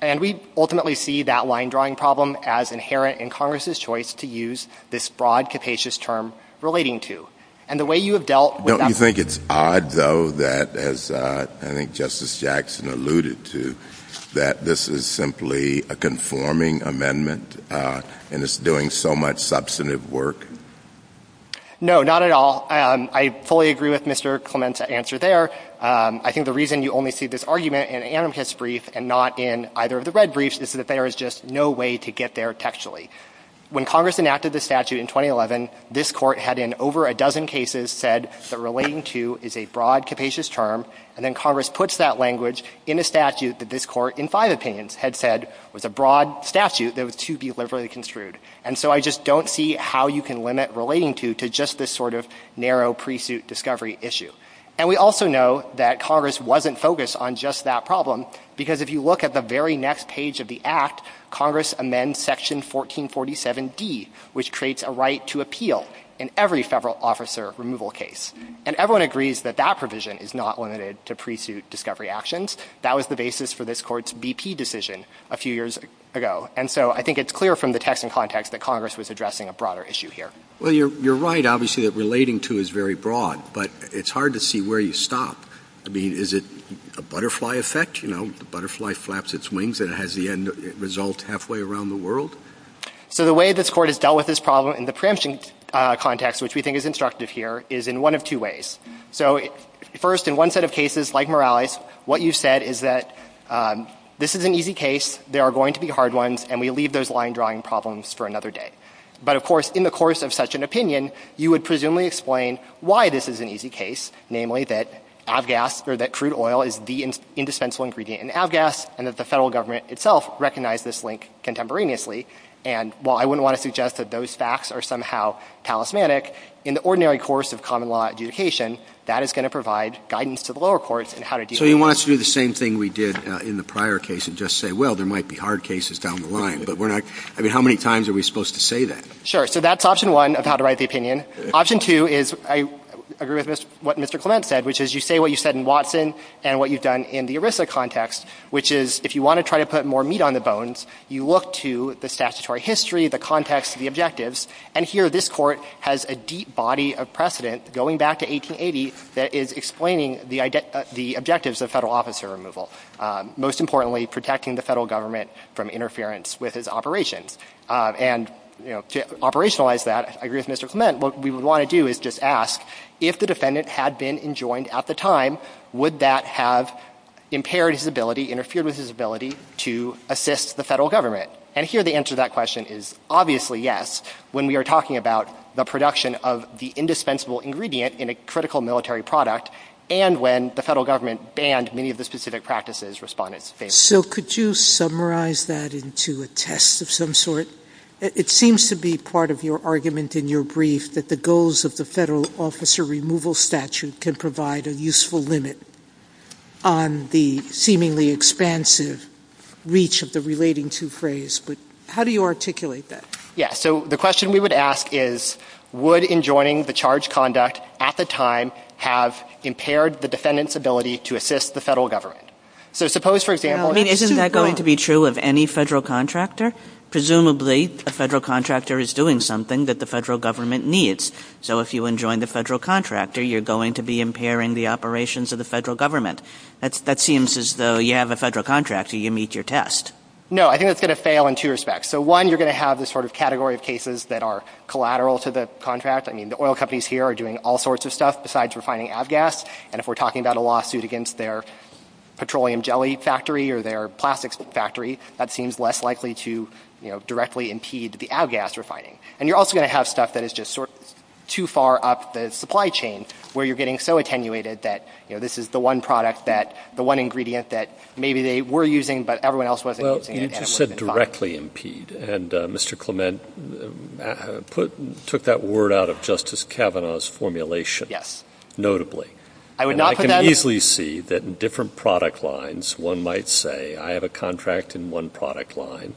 And we ultimately see that line-drawing problem as inherent in Congress's choice to use this broad, capacious term relating to. And the way you have dealt with that... Don't you think it's odd, though, that, as I think Justice Jackson alluded to, that this is simply a conforming amendment, and it's doing so much substantive work? No, not at all. I fully agree with Mr. Clement's answer there. I think the reason you only see this argument in the anarchist brief and not in either of the red briefs is that there is just no way to get there textually. When Congress enacted the statute in 2011, this Court had, in over a dozen cases, said that relating to is a broad, capacious term, and then Congress puts that language in a statute that this Court, in five opinions, had said was a broad statute that was too deliberately construed. And so I just don't see how you can limit relating to to just this sort of narrow pre-suit discovery issue. And we also know that Congress wasn't focused on just that problem, because if you look at the very next page of the Act, Congress amends Section 1447D, which creates a right to appeal in every federal officer removal case. And everyone agrees that that provision is not limited to pre-suit discovery actions. That was the basis for this Court's BP decision a few years ago. And so I think it's clear from the text and context that Congress was addressing a broader issue here. Well, you're right, obviously, that relating to is very broad, but it's hard to see where you stop. I mean, is it a butterfly effect? You know, the butterfly flaps its wings and has the end result halfway around the world? So the way this Court has dealt with this problem in the preemption context, which we think is instructive here, is in one of two ways. So first, in one set of cases, like Morales, what you said is that this is an easy case, there are going to be hard ones, and we leave those line-drawing problems for another day. But, of course, in the course of such an opinion, you would presumably explain why this is an easy case, namely that abgas, or that crude oil, is the indispensable ingredient in abgas, and that the federal government itself recognized this link contemporaneously. And while I wouldn't want to suggest that those facts are somehow talismanic, in the ordinary course of common law adjudication, that is going to provide guidance to the lower courts in how to deal with it. So he wants to do the same thing we did in the prior case and just say, well, there might be hard cases down the line. But we're not – I mean, how many times are we supposed to say that? Sure. So that's option one of how to write the opinion. Option two is, I agree with what Mr. Clement said, which is you say what you said in Watson and what you've done in the ERISA context, which is if you want to try to put more meat on the bones, you look to the statutory history, the context, the objectives. And here this court has a deep body of precedent going back to 1880 that is explaining the objectives of federal officer removal, most importantly protecting the federal government from interference with its operation. And to operationalize that, I agree with Mr. Clement, what we would want to do is just ask, if the defendant had been enjoined at the time, would that have impaired his ability, interfered with his ability to assist the federal government? And here the answer to that question is obviously yes, when we are talking about the production of the indispensable ingredient in a critical military product and when the federal government banned many of the specific practices respondents stated. So could you summarize that into a test of some sort? It seems to be part of your argument in your brief that the goals of the federal officer removal statute can provide a useful limit on the seemingly expansive reach of the relating to phrase, but how do you articulate that? Yes, so the question we would ask is, would enjoining the charge conduct at the time have impaired the defendant's ability to assist the federal government? So suppose, for example... Isn't that going to be true of any federal contractor? Presumably a federal contractor is doing something that the federal government needs. So if you enjoin the federal contractor, you're going to be impairing the operations of the federal government. That seems as though you have a federal contract, so you meet your test. No, I think that's going to fail in two respects. So one, you're going to have this sort of category of cases that are collateral to the contract. I mean, the oil companies here are doing all sorts of stuff besides refining avgas, and if we're talking about a lawsuit against their petroleum jelly factory or their plastics factory, that seems less likely to directly impede the avgas refining. And you're also going to have stuff that is just sort of too far up the supply chain, where you're getting so attenuated that, you know, this is the one product that, the one ingredient that maybe they were using but everyone else wasn't using. Well, you just said directly impede, and Mr. Clement took that word out of Justice Kavanaugh's formulation. Yes. Notably. I would not put that... And I can easily see that in different product lines, one might say, I have a contract in one product line,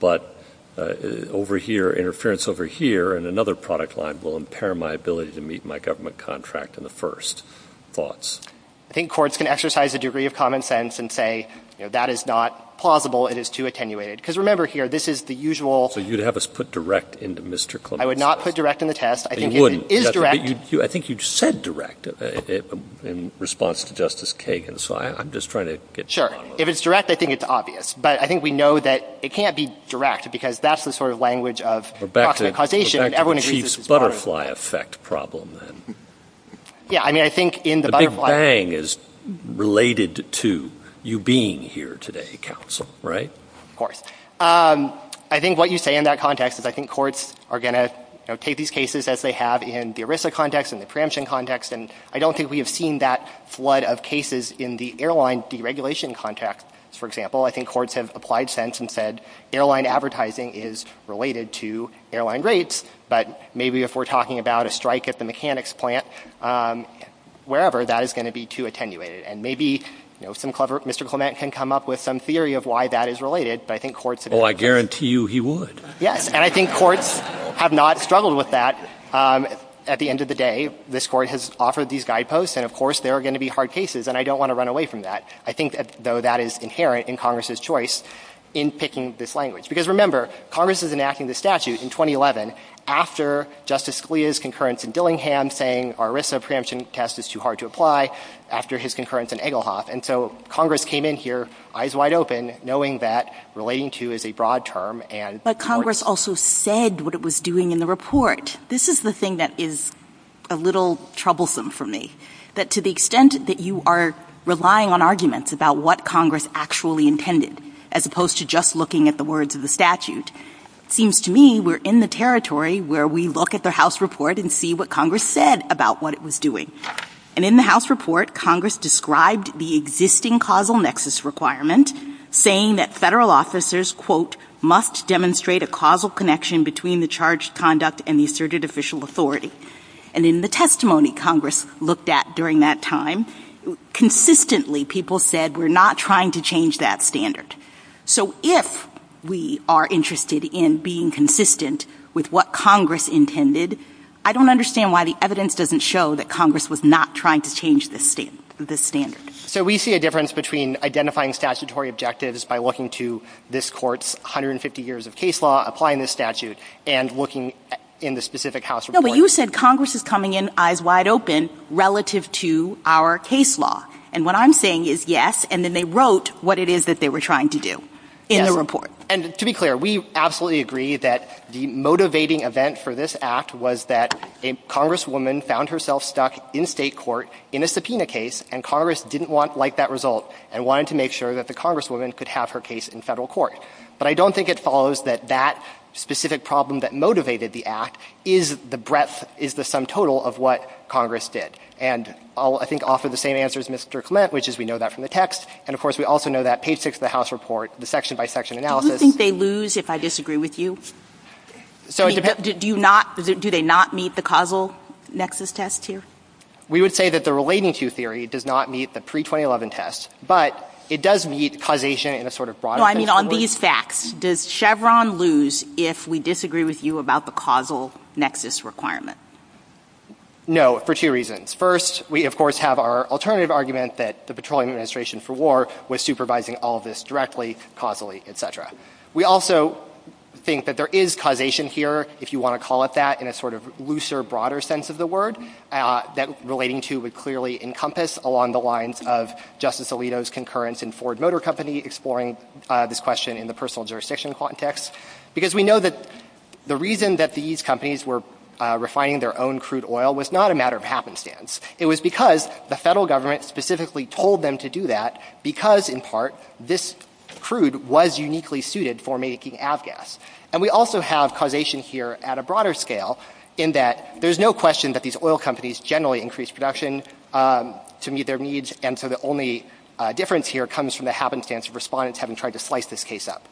but over here, interference over here in another product line will impair my ability to meet my government contract in the first thoughts. I think courts can exercise a degree of common sense and say, you know, that is not plausible. It is too attenuated. Because remember here, this is the usual... So you'd have us put direct into Mr. Clement. I would not put direct in the test. You wouldn't. It is direct. I think you said direct in response to Justice Kagan, so I'm just trying to get... Sure. If it's direct, I think it's obvious. But I think we know that it can't be direct because that's the sort of language of proximate causation. Back to the chief's butterfly effect problem, then. Yeah, I mean, I think in the butterfly... The big bang is related to you being here today, counsel, right? Of course. I think what you say in that context is I think courts are going to take these cases as they have in the ERISA context and the preemption context, and I don't think we have seen that flood of cases in the airline deregulation context, for example. I think courts have applied sense and said airline advertising is related to airline rates, but maybe if we're talking about a strike at the mechanics plant, wherever, that is going to be too attenuated. And maybe, you know, some clever... Mr. Clement can come up with some theory of why that is related, but I think courts... Oh, I guarantee you he would. Yes, and I think courts have not struggled with that. At the end of the day, this Court has offered these guideposts, and of course there are going to be hard cases, and I don't want to run away from that. I think, though, that is inherent in Congress's choice in picking this language. Because remember, Congress is enacting the statutes in 2011 after Justice Scalia's concurrence in Dillingham saying our ERISA preemption test is too hard to apply, after his concurrence in Egglehop, and so Congress came in here, eyes wide open, knowing that relating to is a broad term and... But Congress also said what it was doing in the report. This is the thing that is a little troublesome for me, that to the extent that you are relying on arguments about what Congress actually intended, as opposed to just looking at the words of the statute, it seems to me we're in the territory where we look at the House report and see what Congress said about what it was doing. And in the House report, Congress described the existing causal nexus requirement, saying that federal officers, quote, between the charged conduct and the asserted official authority. And in the testimony Congress looked at during that time, consistently people said we're not trying to change that standard. So if we are interested in being consistent with what Congress intended, I don't understand why the evidence doesn't show that Congress was not trying to change this standard. So we see a difference between identifying statutory objectives by looking to this Court's 150 years of case law, applying this statute, and looking in the specific House report. No, but you said Congress is coming in eyes wide open relative to our case law. And what I'm saying is yes, and then they wrote what it is that they were trying to do in the report. And to be clear, we absolutely agree that the motivating event for this Act was that a Congresswoman found herself stuck in state court in a subpoena case, and Congress didn't like that result and wanted to make sure that the Congresswoman could have her case in federal court. But I don't think it follows that that specific problem that motivated the Act is the breadth, is the sum total of what Congress did. And I'll, I think, offer the same answer as Mr. Clement, which is we know that from the text. And, of course, we also know that page 6 of the House report, the section-by-section analysis — Do you think they lose if I disagree with you? So as a — Do you not — do they not meet the causal nexus test, too? We would say that the relating to theory does not meet the pre-2011 test, but it does meet causation in a sort of broad sense of the word. So, I mean, on these facts, does Chevron lose if we disagree with you about the causal nexus requirement? No, for two reasons. First, we, of course, have our alternative argument that the Petroleum Administration for War was supervising all of this directly, causally, et cetera. We also think that there is causation here, if you want to call it that, in a sort of looser, broader sense of the word, that relating to would clearly encompass along the lines of Justice Alito's concurrence in Ford Motor Company, exploring this question in the personal jurisdiction context, because we know that the reason that these companies were refining their own crude oil was not a matter of happenstance. It was because the federal government specifically told them to do that because, in part, this crude was uniquely suited for making avgas. And we also have causation here at a broader scale in that there's no question that these oil companies generally increase production to meet their needs, and so the only difference here comes from the happenstance of respondents having tried to slice this case up.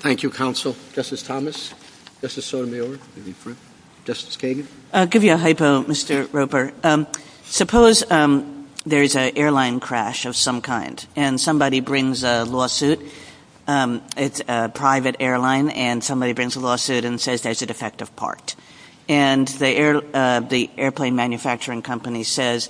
Thank you, Counsel. Justice Thomas? Justice Sotomayor? Justice Kagan? I'll give you a hypo, Mr. Roper. Suppose there's an airline crash of some kind, and somebody brings a lawsuit. It's a private airline, and somebody brings a lawsuit and says, there's a defective part. And the airplane manufacturing company says,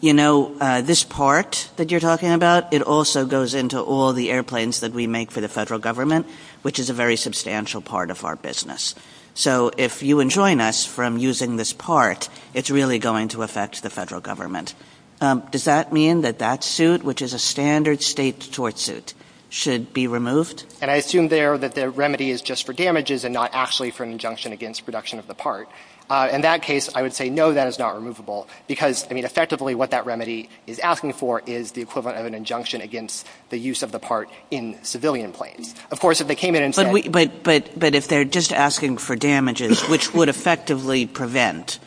you know, this part that you're talking about, it also goes into all the airplanes that we make for the federal government, which is a very substantial part of our business. So if you enjoin us from using this part, it's really going to affect the federal government. Does that mean that that suit, which is a standard state tort suit, should be removed? And I assume there that the remedy is just for damages and not actually for an injunction against production of the part. In that case, I would say no, that is not removable, because, I mean, effectively what that remedy is asking for is the equivalent of an injunction against the use of the part in civilian planes. Of course, if they came in and said... But if they're just asking for damages, which would effectively prevent,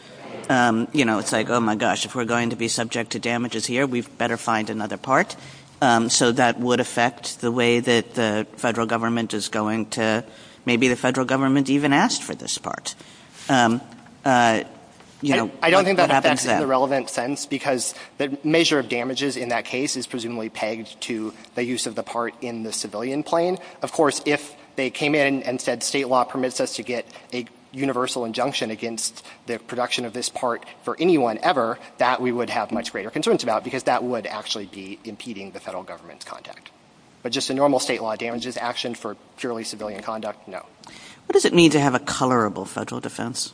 you know, it's like, oh my gosh, if we're going to be subject to damages here, we'd better find another part. So that would affect the way that the federal government is going to... Maybe the federal government even asked for this part. I don't think that makes any relevant sense, because the measure of damages in that case is presumably pegged to the use of the part in the civilian plane. Of course, if they came in and said, state law permits us to get a universal injunction against the production of this part for anyone ever, that we would have much greater concerns about, because that would actually be impeding the federal government's conduct. But just a normal state law damages action for purely civilian conduct, no. What does it mean to have a colorable federal defense?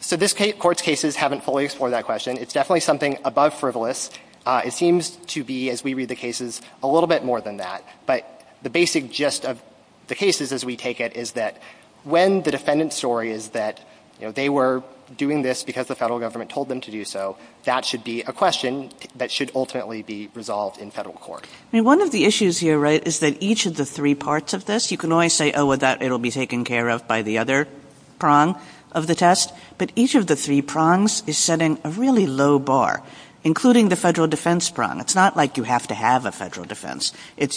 So this Court's cases haven't fully explored that question. It's definitely something above frivolous. It seems to be, as we read the cases, a little bit more than that. But the basic gist of the cases, as we take it, is that when the defendant's story is that, you know, they were doing this because the federal government told them to do so, that should be a question that should ultimately be resolved in federal court. And one of the issues here, right, is that each of the three parts of this, you can always say, oh, well, that will be taken care of by the other prong of the test, but each of the three prongs is setting a really low bar, including the federal defense prong. It's not like you have to have a federal defense.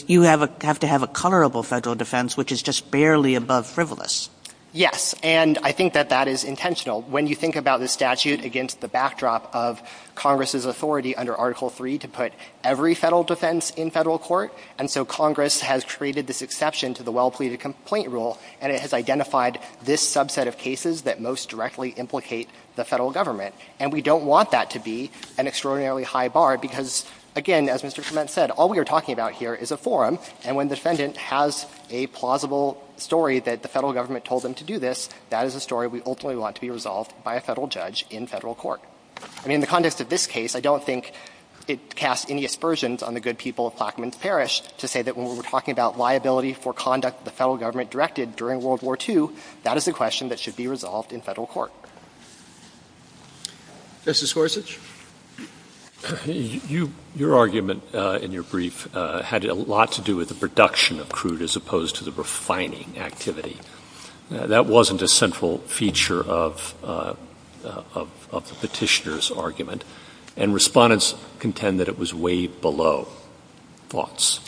You have to have a colorable federal defense, which is just barely above frivolous. Yes, and I think that that is intentional. When you think about the statute against the backdrop of Congress's authority under Article III to put every federal defense in federal court, and so Congress has created this exception to the well-pleaded complaint rule, and it has identified this subset of cases that most directly implicate the federal government. And we don't want that to be an extraordinarily high bar because, again, as Mr. Schmidt said, all we are talking about here is a forum, and when the defendant has a plausible story that the federal government told them to do this, that is a story we ultimately want to be resolved by a federal judge in federal court. In the context of this case, I don't think it casts any aspersions on the good people of Plaquemines Parish to say that when we're talking about liability for conduct the federal government directed during World War II, that is a question that should be resolved in federal court. Mr. Scorsese? Your argument in your brief had a lot to do with the production of crude as opposed to the refining activity. That wasn't a central feature of the petitioner's argument, and respondents contend that it was waived below. Thoughts?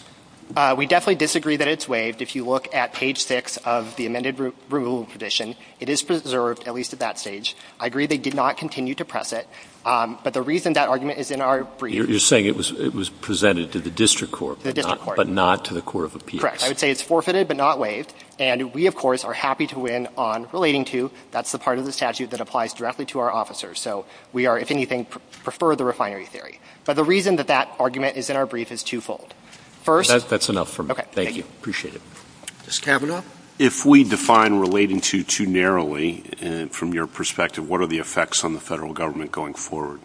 We definitely disagree that it's waived. If you look at page 6 of the amended removal petition, it is preserved, at least at that stage. I agree they did not continue to press it, but the reason that argument is in our brief... You're saying it was presented to the district court, but not to the court of appeals. Correct. I would say it's forfeited, but not waived. And we, of course, are happy to win on relating to. That's the part of the statute that applies directly to our officers. So we are, if anything, prefer the refinery theory. But the reason that that argument is in our brief is twofold. That's enough for me. Thank you. Appreciate it. Justice Kavanaugh? If we define relating to too narrowly, from your perspective, what are the effects on the federal government going forward?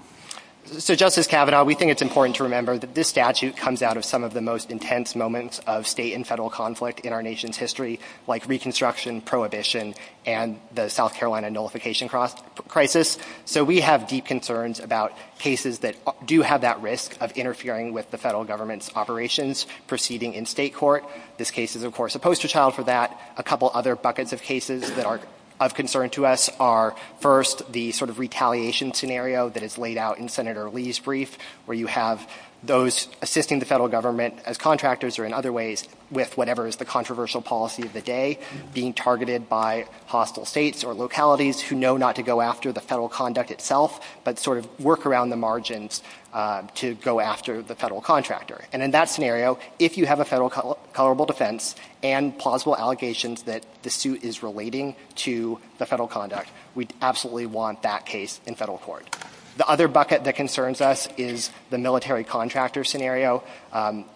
So, Justice Kavanaugh, we think it's important to remember that this statute comes out of some of the most intense moments of state and federal conflict in our nation's history, like Reconstruction, Prohibition, and the South Carolina Nullification Crisis. So we have deep concerns about cases that do have that risk of interfering with the federal government's operations proceeding in state court. This case is, of course, a poster child for that. A couple other buckets of cases that are of concern to us are, first, the sort of retaliation scenario that is laid out in Senator Lee's brief, where you have those assisting the federal government as contractors or in other ways with whatever is the controversial policy of the day being targeted by hostile states or localities who know not to go after the federal conduct itself, but sort of work around the margins to go after the federal contractor. And in that scenario, if you have a federal culpable defense and plausible allegations that the suit is relating to the federal conduct, we absolutely want that case in federal court. The other bucket that concerns us is the military contractor scenario.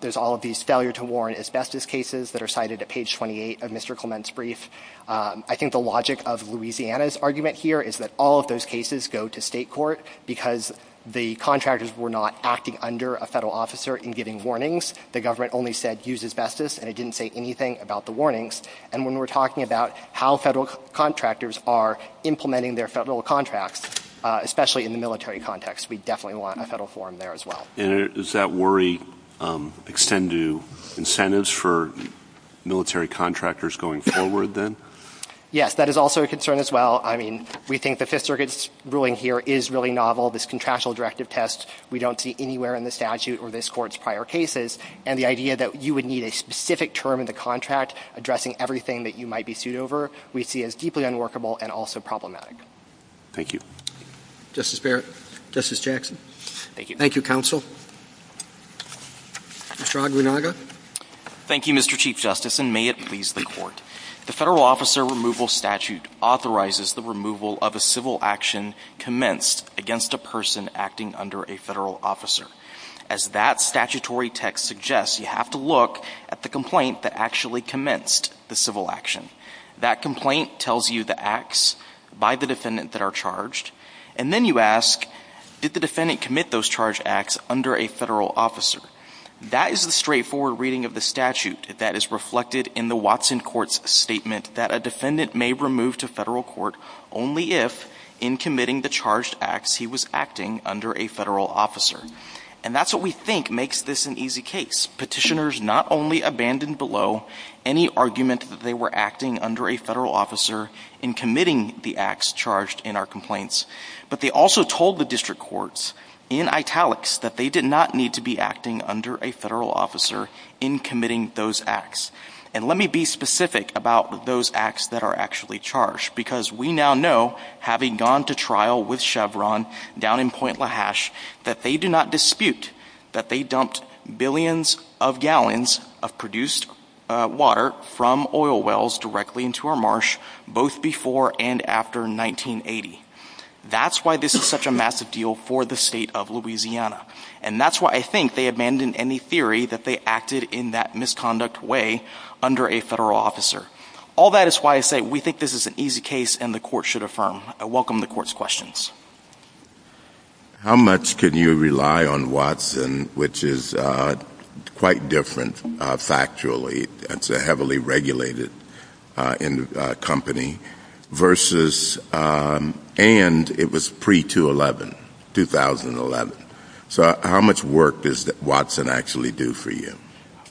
There's all of these failure-to-warrant asbestos cases that are cited at page 28 of Mr. Clement's brief. I think the logic of Louisiana's argument here is that all of those cases go to state court because the contractors were not acting under a federal officer and giving warnings. The government only said, use asbestos, and it didn't say anything about the warnings. And when we're talking about how federal contractors are implementing their federal contracts, especially in the military context, we definitely want a federal forum there as well. And does that worry extend to incentives for military contractors going forward then? Yes, that is also a concern as well. I mean, we think the Fifth Circuit's ruling here is really novel. This contractual directive test, we don't see anywhere in the statute or this court's prior cases. And the idea that you would need a specific term in the contract addressing everything that you might be sued over, we see as deeply unworkable and also problematic. Thank you. Justice Barrett. Justice Jackson. Thank you. Thank you, counsel. Mr. Aguinaldo. Thank you, Mr. Chief Justice, and may it please the court. The Federal Officer Removal Statute authorizes the removal of a civil action commenced against a person acting under a federal officer. As that statutory text suggests, you have to look at the complaint that actually commenced the civil action. That complaint tells you the acts by the defendant that are charged, and then you ask, did the defendant commit those charged acts under a federal officer? That is the straightforward reading of the statute that is reflected in the Watson Court's statement that a defendant may remove to federal court only if in committing the charged acts he was acting under a federal officer. And that's what we think makes this an easy case. Petitioners not only abandon below any argument that they were acting under a federal officer in committing the acts charged in our complaints, but they also told the district courts in italics that they did not need to be acting under a federal officer in committing those acts. And let me be specific about those acts that are actually charged because we now know, having gone to trial with Chevron down in Point LaHashe, that they do not dispute that they dumped billions of gallons of produced water from oil wells directly into our marsh both before and after 1980. That's why this is such a massive deal for the state of Louisiana. And that's why I think they abandon any theory that they acted in that misconduct way under a federal officer. All that is why I say we think this is an easy case and the court should affirm. I welcome the court's questions. How much can you rely on Watson, which is quite different factually? It's a heavily regulated company and it was pre-2011. So how much work does Watson actually do for you?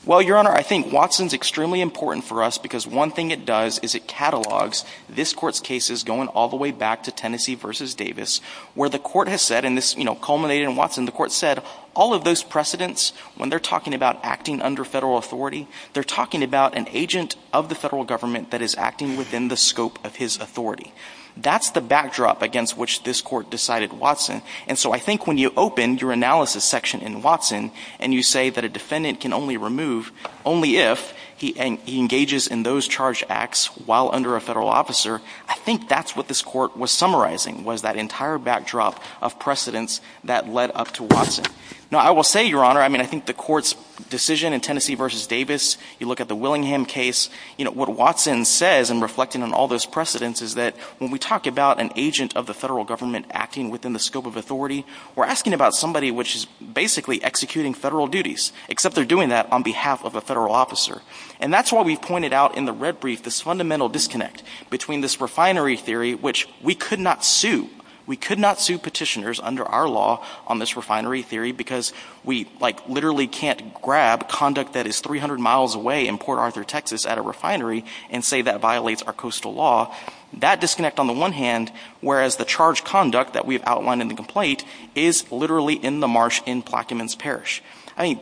Well, Your Honor, I think Watson is extremely important for us because one thing it does is it catalogs this court's cases going all the way back to Tennessee v. Davis where the court has said, and this culminated in Watson, the court said all of those precedents, when they're talking about acting under federal authority, they're talking about an agent of the federal government that is acting within the scope of his authority. That's the backdrop against which this court decided Watson. And so I think when you open your analysis section in Watson and you say that a defendant can only remove only if he engages in those charged acts while under a federal officer, I think that's what this court was summarizing was that entire backdrop of precedents that led up to Watson. Now I will say, Your Honor, I think the court's decision in Tennessee v. Davis, you look at the Willingham case, what Watson says in reflecting on all those precedents is that when we talk about an agent of the federal government acting within the scope of authority, we're asking about somebody which is basically executing federal duties, except they're doing that on behalf of a federal officer. And that's why we pointed out in the red brief this fundamental disconnect between this refinery theory, which we could not sue. We could not sue petitioners under our law on this refinery theory because we literally can't grab conduct that is 300 miles away in Port Arthur, Texas at a refinery and say that violates our coastal law. That disconnect on the one hand, whereas the charged conduct that we have outlined in the complaint is literally in the marsh in Plaquemines Parish.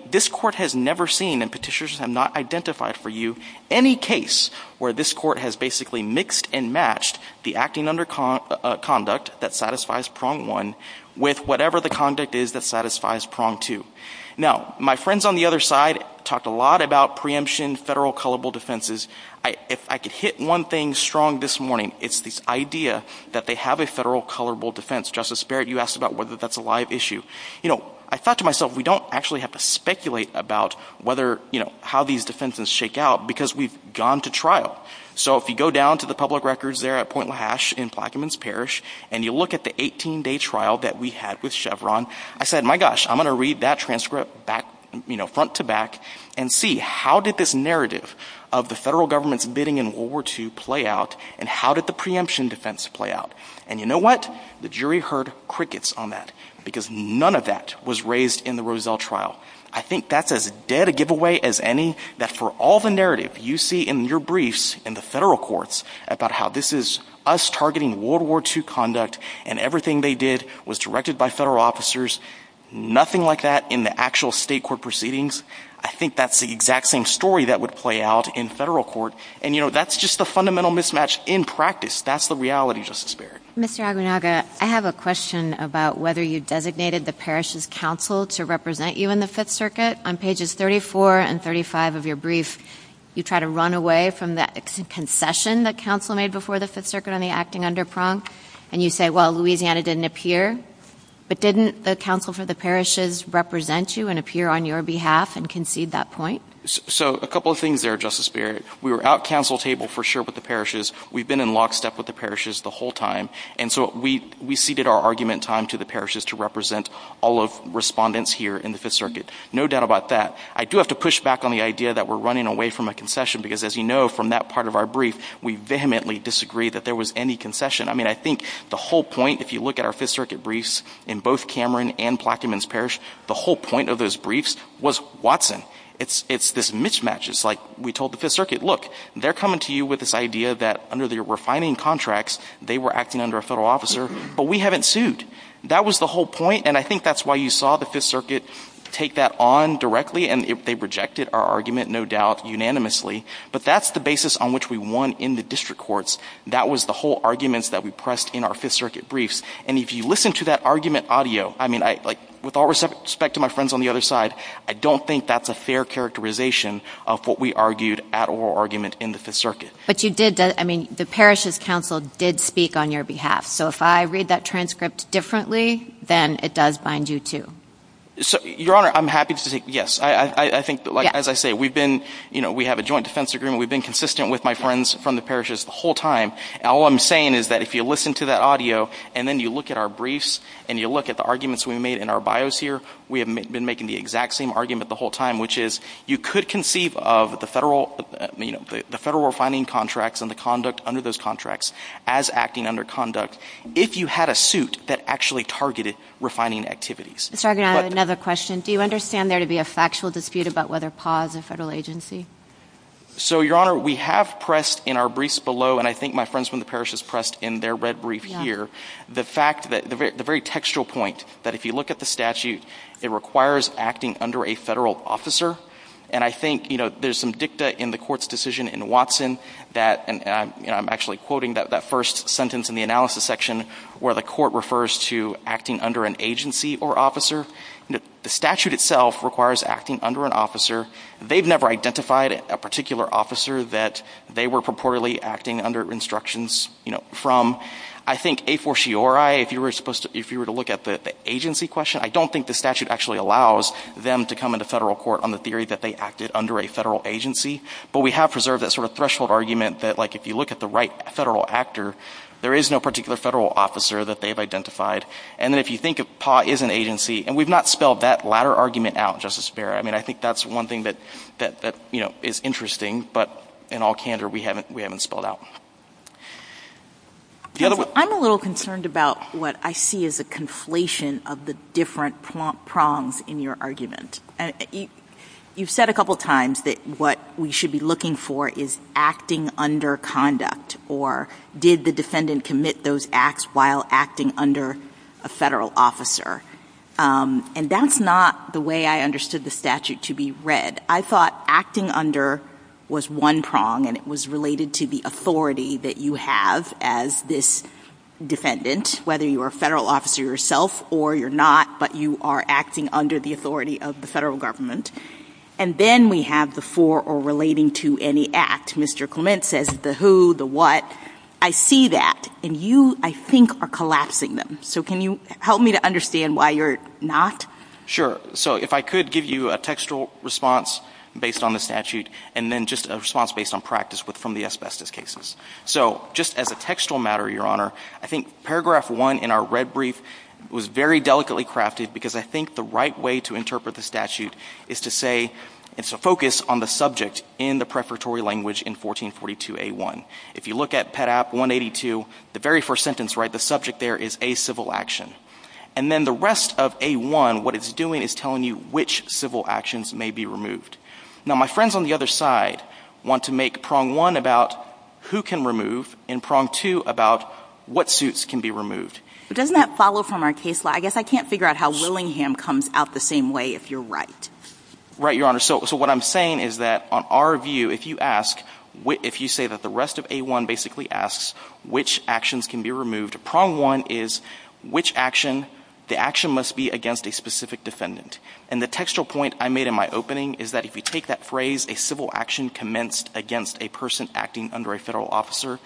This court has never seen, and petitioners have not identified for you, any case where this court has basically mixed and matched the acting under conduct that satisfies prong one with whatever the conduct is that satisfies prong two. Now, my friends on the other side talked a lot about preemption, federal colorable defenses. If I could hit one thing strong this morning, it's this idea that they have a federal colorable defense. Justice Barrett, you asked about whether that's a live issue. I thought to myself, we don't actually have to speculate about how these defenses shake out because we've gone to trial. So if you go down to the public records there at Point LaHashe in Plaquemines Parish and you look at the 18-day trial that we had with Chevron, I said, my gosh, I'm going to read that transcript front to back and see how did this narrative of the federal government's bidding in World War II play out, and how did the preemption defense play out? And you know what? The jury heard crickets on that because none of that was raised in the Rozelle trial. I think that's as dead a giveaway as any. I think that for all the narrative you see in your briefs in the federal courts about how this is us targeting World War II conduct and everything they did was directed by federal officers, nothing like that in the actual state court proceedings. I think that's the exact same story that would play out in federal court. And you know, that's just a fundamental mismatch in practice. That's the reality, Justice Barrett. Mr. Aguinaldo, I have a question about whether you designated the parish's council to represent you in the Fifth Circuit. On pages 34 and 35 of your brief, you try to run away from the concession that council made before the Fifth Circuit on the acting underprong, and you say, well, Louisiana didn't appear. But didn't the council for the parishes represent you and appear on your behalf and concede that point? So a couple of things there, Justice Barrett. We were at council table for sure with the parishes. We've been in lockstep with the parishes the whole time. And so we ceded our argument time to the parishes to represent all of respondents here in the Fifth Circuit. No doubt about that. I do have to push back on the idea that we're running away from a concession because as you know from that part of our brief, we vehemently disagree that there was any concession. I mean, I think the whole point, if you look at our Fifth Circuit briefs in both Cameron and Plaquemines Parish, the whole point of those briefs was Watson. It's this mismatch. It's like we told the Fifth Circuit, look, they're coming to you with this idea that under their refining contracts they were acting under a federal officer, but we haven't sued. That was the whole point, and I think that's why you saw the Fifth Circuit take that on directly, and they rejected our argument, no doubt, unanimously. But that's the basis on which we won in the district courts. That was the whole argument that we pressed in our Fifth Circuit briefs. And if you listen to that argument audio, I mean, with all respect to my friends on the other side, I don't think that's a fair characterization of what we argued at oral argument in the Fifth Circuit. But you did – I mean, the Parish's counsel did speak on your behalf. So if I read that transcript differently, then it does bind you too. Your Honor, I'm happy to say yes. I think, as I say, we've been – we have a joint defense agreement. We've been consistent with my friends from the parishes the whole time. All I'm saying is that if you listen to that audio, and then you look at our briefs, and you look at the arguments we made in our bios here, we have been making the exact same argument the whole time, which is you could conceive of the federal – I mean, the federal refining contracts and the conduct under those contracts as acting under conduct if you had a suit that actually targeted refining activities. Mr. Argan, I have another question. Do you understand there to be a factual dispute about whether PAWS is a federal agency? So, Your Honor, we have pressed in our briefs below, and I think my friends from the parishes pressed in their red brief here, the fact that – the very textual point that if you look at the statute, it requires acting under a federal officer. And I think there's some dicta in the court's decision in Watson that – and I'm actually quoting that first sentence in the analysis section where the court refers to acting under an agency or officer. The statute itself requires acting under an officer. They've never identified a particular officer that they were purportedly acting under instructions from. I think a fortiori, if you were to look at the agency question, I don't think the statute actually allows them to come into federal court on the theory that they acted under a federal agency. But we have preserved that sort of threshold argument that, like, if you look at the right federal actor, there is no particular federal officer that they've identified. And then if you think of PAWS as an agency – and we've not spelled that latter argument out, Justice Barrett. I mean, I think that's one thing that, you know, is interesting. But in all candor, we haven't spelled it out. I'm a little concerned about what I see as the conflation of the different prongs in your argument. You've said a couple times that what we should be looking for is acting under conduct or did the defendant commit those acts while acting under a federal officer. And that's not the way I understood the statute to be read. I thought acting under was one prong, and it was related to the authority that you have as this defendant, whether you're a federal officer yourself or you're not, but you are acting under the authority of the federal government. And then we have the for or relating to any act. Mr. Clement says the who, the what. I see that, and you, I think, are collapsing them. So can you help me to understand why you're not? Sure. So if I could give you a textual response based on the statute and then just a response based on practice from the asbestos cases. So just as a textual matter, Your Honor, I think paragraph one in our red brief was very delicately crafted because I think the right way to interpret the statute is to say it's a focus on the subject in the preparatory language in 1442A1. If you look at PEDAP 182, the very first sentence, right, the subject there is a civil action. And then the rest of A1, what it's doing is telling you which civil actions may be removed. Now my friends on the other side want to make prong one about who can remove and prong two about what suits can be removed. Doesn't that follow from our case law? I guess I can't figure out how Willingham comes out the same way if you're right. Right, Your Honor. So what I'm saying is that on our view, if you ask, if you say that the rest of A1 basically asks which actions can be removed, the answer to prong one is which action, the action must be against a specific defendant. And the textual point I made in my opening is that if you take that phrase, a civil action commenced against a person acting under a federal officer,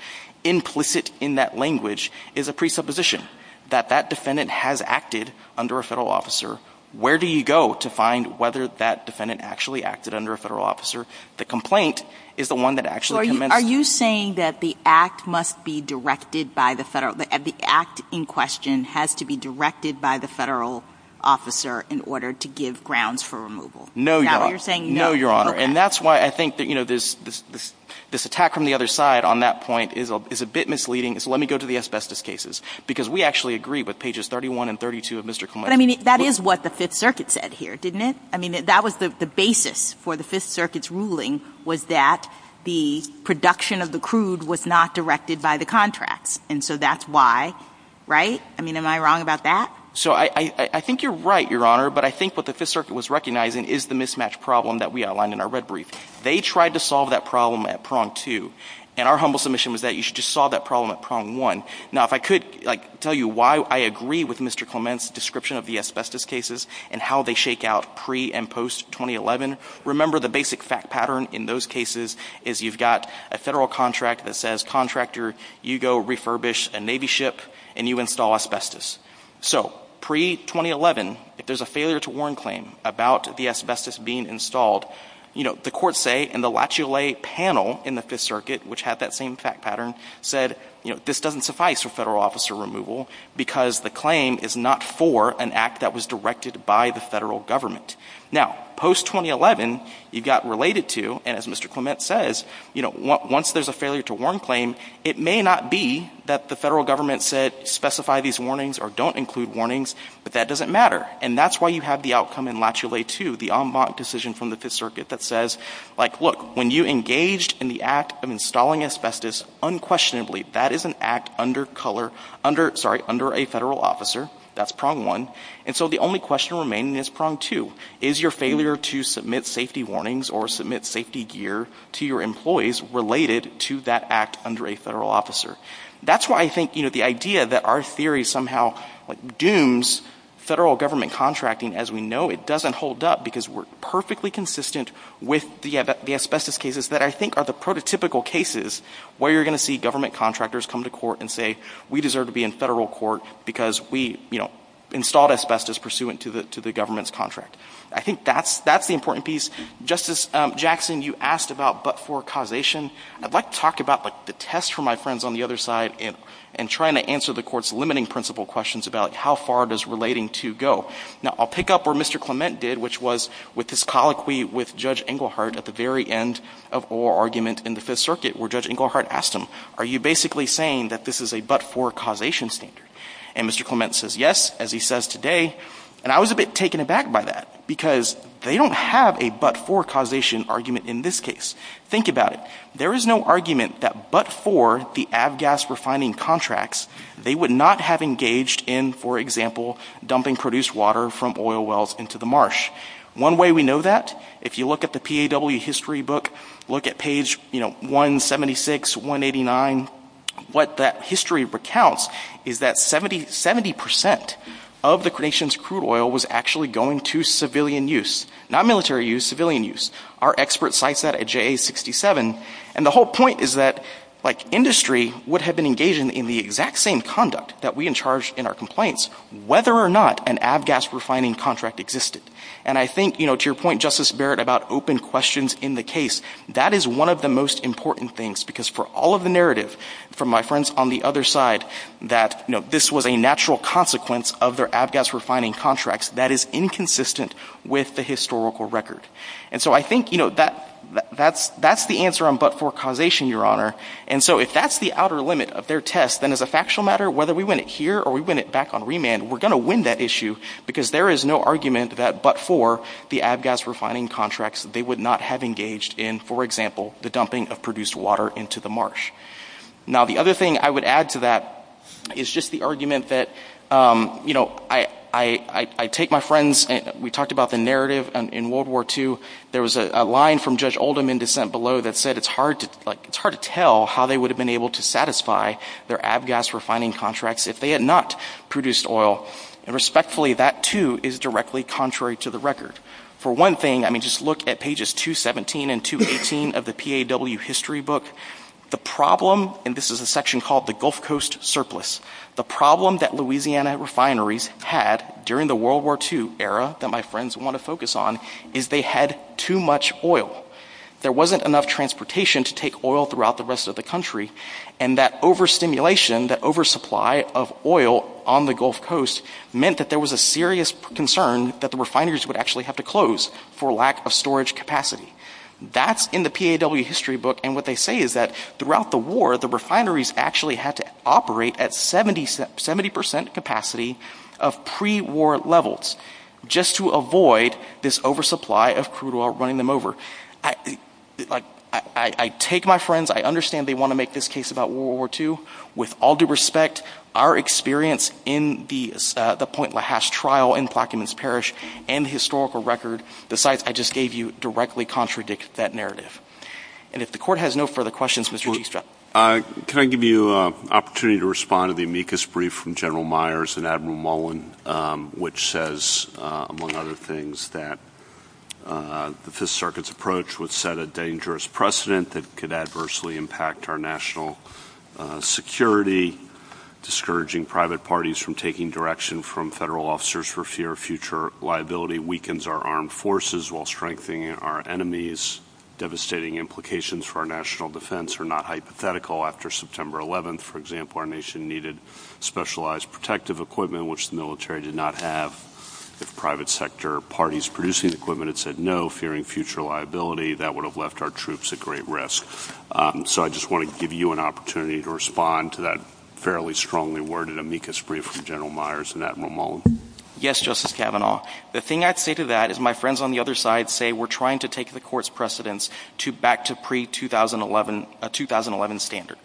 implicit in that language is a presupposition that that defendant has acted under a federal officer. Where do you go to find whether that defendant actually acted under a federal officer? The complaint is the one that actually commenced. Are you saying that the act must be directed by the federal, the act in question has to be directed by the federal officer in order to give grounds for removal? No, Your Honor. Is that what you're saying? No, Your Honor. And that's why I think this attack from the other side on that point is a bit misleading. So let me go to the asbestos cases because we actually agree with pages 31 and 32 of Mr. Clement. But I mean that is what the Fifth Circuit said here, didn't it? I mean that was the basis for the Fifth Circuit's ruling, was that the production of the crude was not directed by the contracts. And so that's why, right? I mean am I wrong about that? So I think you're right, Your Honor. But I think what the Fifth Circuit was recognizing is the mismatch problem that we outlined in our red brief. They tried to solve that problem at prong two. And our humble submission was that you should just solve that problem at prong one. Now if I could tell you why I agree with Mr. Clement's description of the asbestos cases and how they shake out pre- and post-2011, remember the basic fact pattern in those cases is you've got a federal contract that says, contractor, you go refurbish a Navy ship and you install asbestos. So pre-2011, if there's a failure-to-warn claim about the asbestos being installed, the courts say in the Lachulet panel in the Fifth Circuit, which had that same fact pattern, said this doesn't suffice for federal officer removal because the claim is not for an act that was directed by the federal government. Now post-2011, you've got related to, as Mr. Clement says, once there's a failure-to-warn claim, it may not be that the federal government said specify these warnings or don't include warnings, but that doesn't matter. And that's why you have the outcome in Lachulet 2, the en banc decision from the Fifth Circuit that says, like look, when you engaged in the act of installing asbestos, unquestionably that is an act under a federal officer. That's prong one. And so the only question remaining is prong two. Is your failure to submit safety warnings or submit safety gear to your employees related to that act under a federal officer? That's why I think the idea that our theory somehow dooms federal government contracting, as we know it doesn't hold up because we're perfectly consistent with the asbestos cases that I think are the prototypical cases where you're going to see government contractors come to court and say we deserve to be in federal court because we installed asbestos pursuant to the government's contract. I think that's the important piece. Justice Jackson, you asked about but-for causation. I'd like to talk about the test for my friends on the other side and trying to answer the court's limiting principle questions about how far does relating to go. Now I'll pick up where Mr. Clement did, which was with his colloquy with Judge Engelhardt at the very end of our argument in the Fifth Circuit where Judge Engelhardt asked him, are you basically saying that this is a but-for causation standard? And Mr. Clement says yes, as he says today. And I was a bit taken aback by that because they don't have a but-for causation argument in this case. Think about it. There is no argument that but-for the ABGAS refining contracts, they would not have engaged in, for example, dumping produced water from oil wells into the marsh. One way we know that, if you look at the PAW history book, look at page 176, 189, what that history recounts is that 70% of the creation's crude oil was actually going to civilian use, not military use, civilian use. Our expert cites that at JA67. And the whole point is that industry would have been engaged in the exact same conduct that we in charge in our complaints, whether or not an ABGAS refining contract existed. And I think, to your point, Justice Barrett, about open questions in the case, that is one of the most important things because for all of the narrative, from my friends on the other side, that this was a natural consequence of their ABGAS refining contracts, that is inconsistent with the historical record. And so I think that is the answer on but-for causation, Your Honor. And so if that is the outer limit of their test, then as a factual matter, whether we win it here or we win it back on remand, we are going to win that issue because there is no argument that but-for the ABGAS refining contracts, they would not have engaged in, for example, the dumping of produced water into the marsh. Now the other thing I would add to that is just the argument that I take my friends, we talked about the narrative in World War II. There was a line from Judge Oldham in dissent below that said it is hard to tell how they would have been able to satisfy their ABGAS refining contracts if they had not produced oil. And respectfully, that too is directly contrary to the record. For one thing, just look at pages 217 and 218 of the PAW history book. The problem, and this is a section called the Gulf Coast Surplus, the problem that Louisiana refineries had during the World War II era that my friends want to focus on is they had too much oil. There wasn't enough transportation to take oil throughout the rest of the country, and that overstimulation, that oversupply of oil on the Gulf Coast meant that there was a serious concern that the refineries would actually have to close for lack of storage capacity. That's in the PAW history book, and what they say is that throughout the war, that the refineries actually had to operate at 70% capacity of pre-war levels just to avoid this oversupply of crude oil running them over. I take my friends, I understand they want to make this case about World War II. With all due respect, our experience in the Point LaHasse trial in Plaquemines Parish and the historical record, the sites I just gave you directly contradict that narrative. And if the court has no further questions, Mr. Giesbrecht. Can I give you an opportunity to respond to the amicus brief from General Myers and Admiral Mullen, which says, among other things, that the Fifth Circuit's approach would set a dangerous precedent that could adversely impact our national security, discouraging private parties from taking direction from federal officers for fear of future liability, potentially weakens our armed forces while strengthening our enemies. Devastating implications for our national defense are not hypothetical. After September 11th, for example, our nation needed specialized protective equipment, which the military did not have. If private sector parties producing equipment had said no, fearing future liability, that would have left our troops at great risk. So I just want to give you an opportunity to respond to that fairly strongly worded amicus brief from General Myers and Admiral Mullen. Yes, Justice Kavanaugh. The thing I'd say to that is my friends on the other side say we're trying to take the court's precedence back to pre-2011 standard.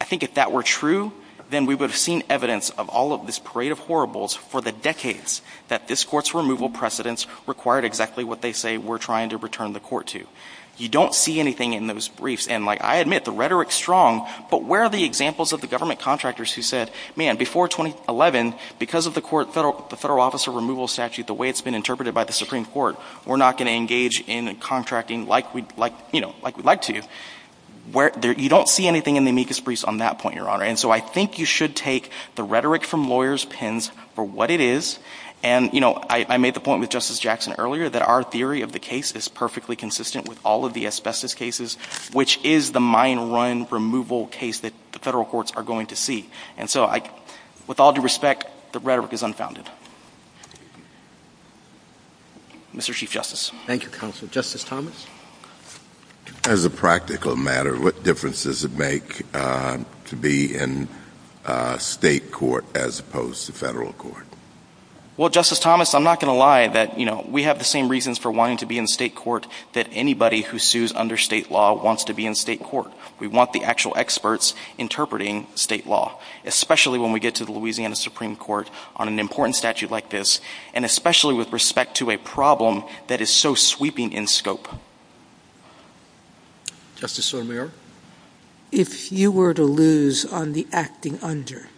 I think if that were true, then we would have seen evidence of all of this parade of horribles for the decades that this court's removal precedence required exactly what they say we're trying to return the court to. You don't see anything in those briefs, and I admit the rhetoric's strong, but where are the examples of the government contractors who said, man, before 2011, because of the federal officer removal statute, the way it's been interpreted by the Supreme Court, we're not going to engage in contracting like we'd like to. You don't see anything in the amicus briefs on that point, Your Honor. And so I think you should take the rhetoric from lawyers' pens for what it is. And I made the point with Justice Jackson earlier that our theory of the case is perfectly consistent with all of the asbestos cases, which is the mine run removal case that the federal courts are going to see. And so with all due respect, the rhetoric is unfounded. Mr. Chief Justice. Thank you, Counsel. Justice Thomas. As a practical matter, what difference does it make to be in state court as opposed to federal court? Well, Justice Thomas, I'm not going to lie. We have the same reasons for wanting to be in state court that anybody who sues under state law wants to be in state court. We want the actual experts interpreting state law, especially when we get to the Louisiana Supreme Court on an important statute like this, and especially with respect to a problem that is so sweeping in scope. Justice O'Meara. If you were to lose on the acting under,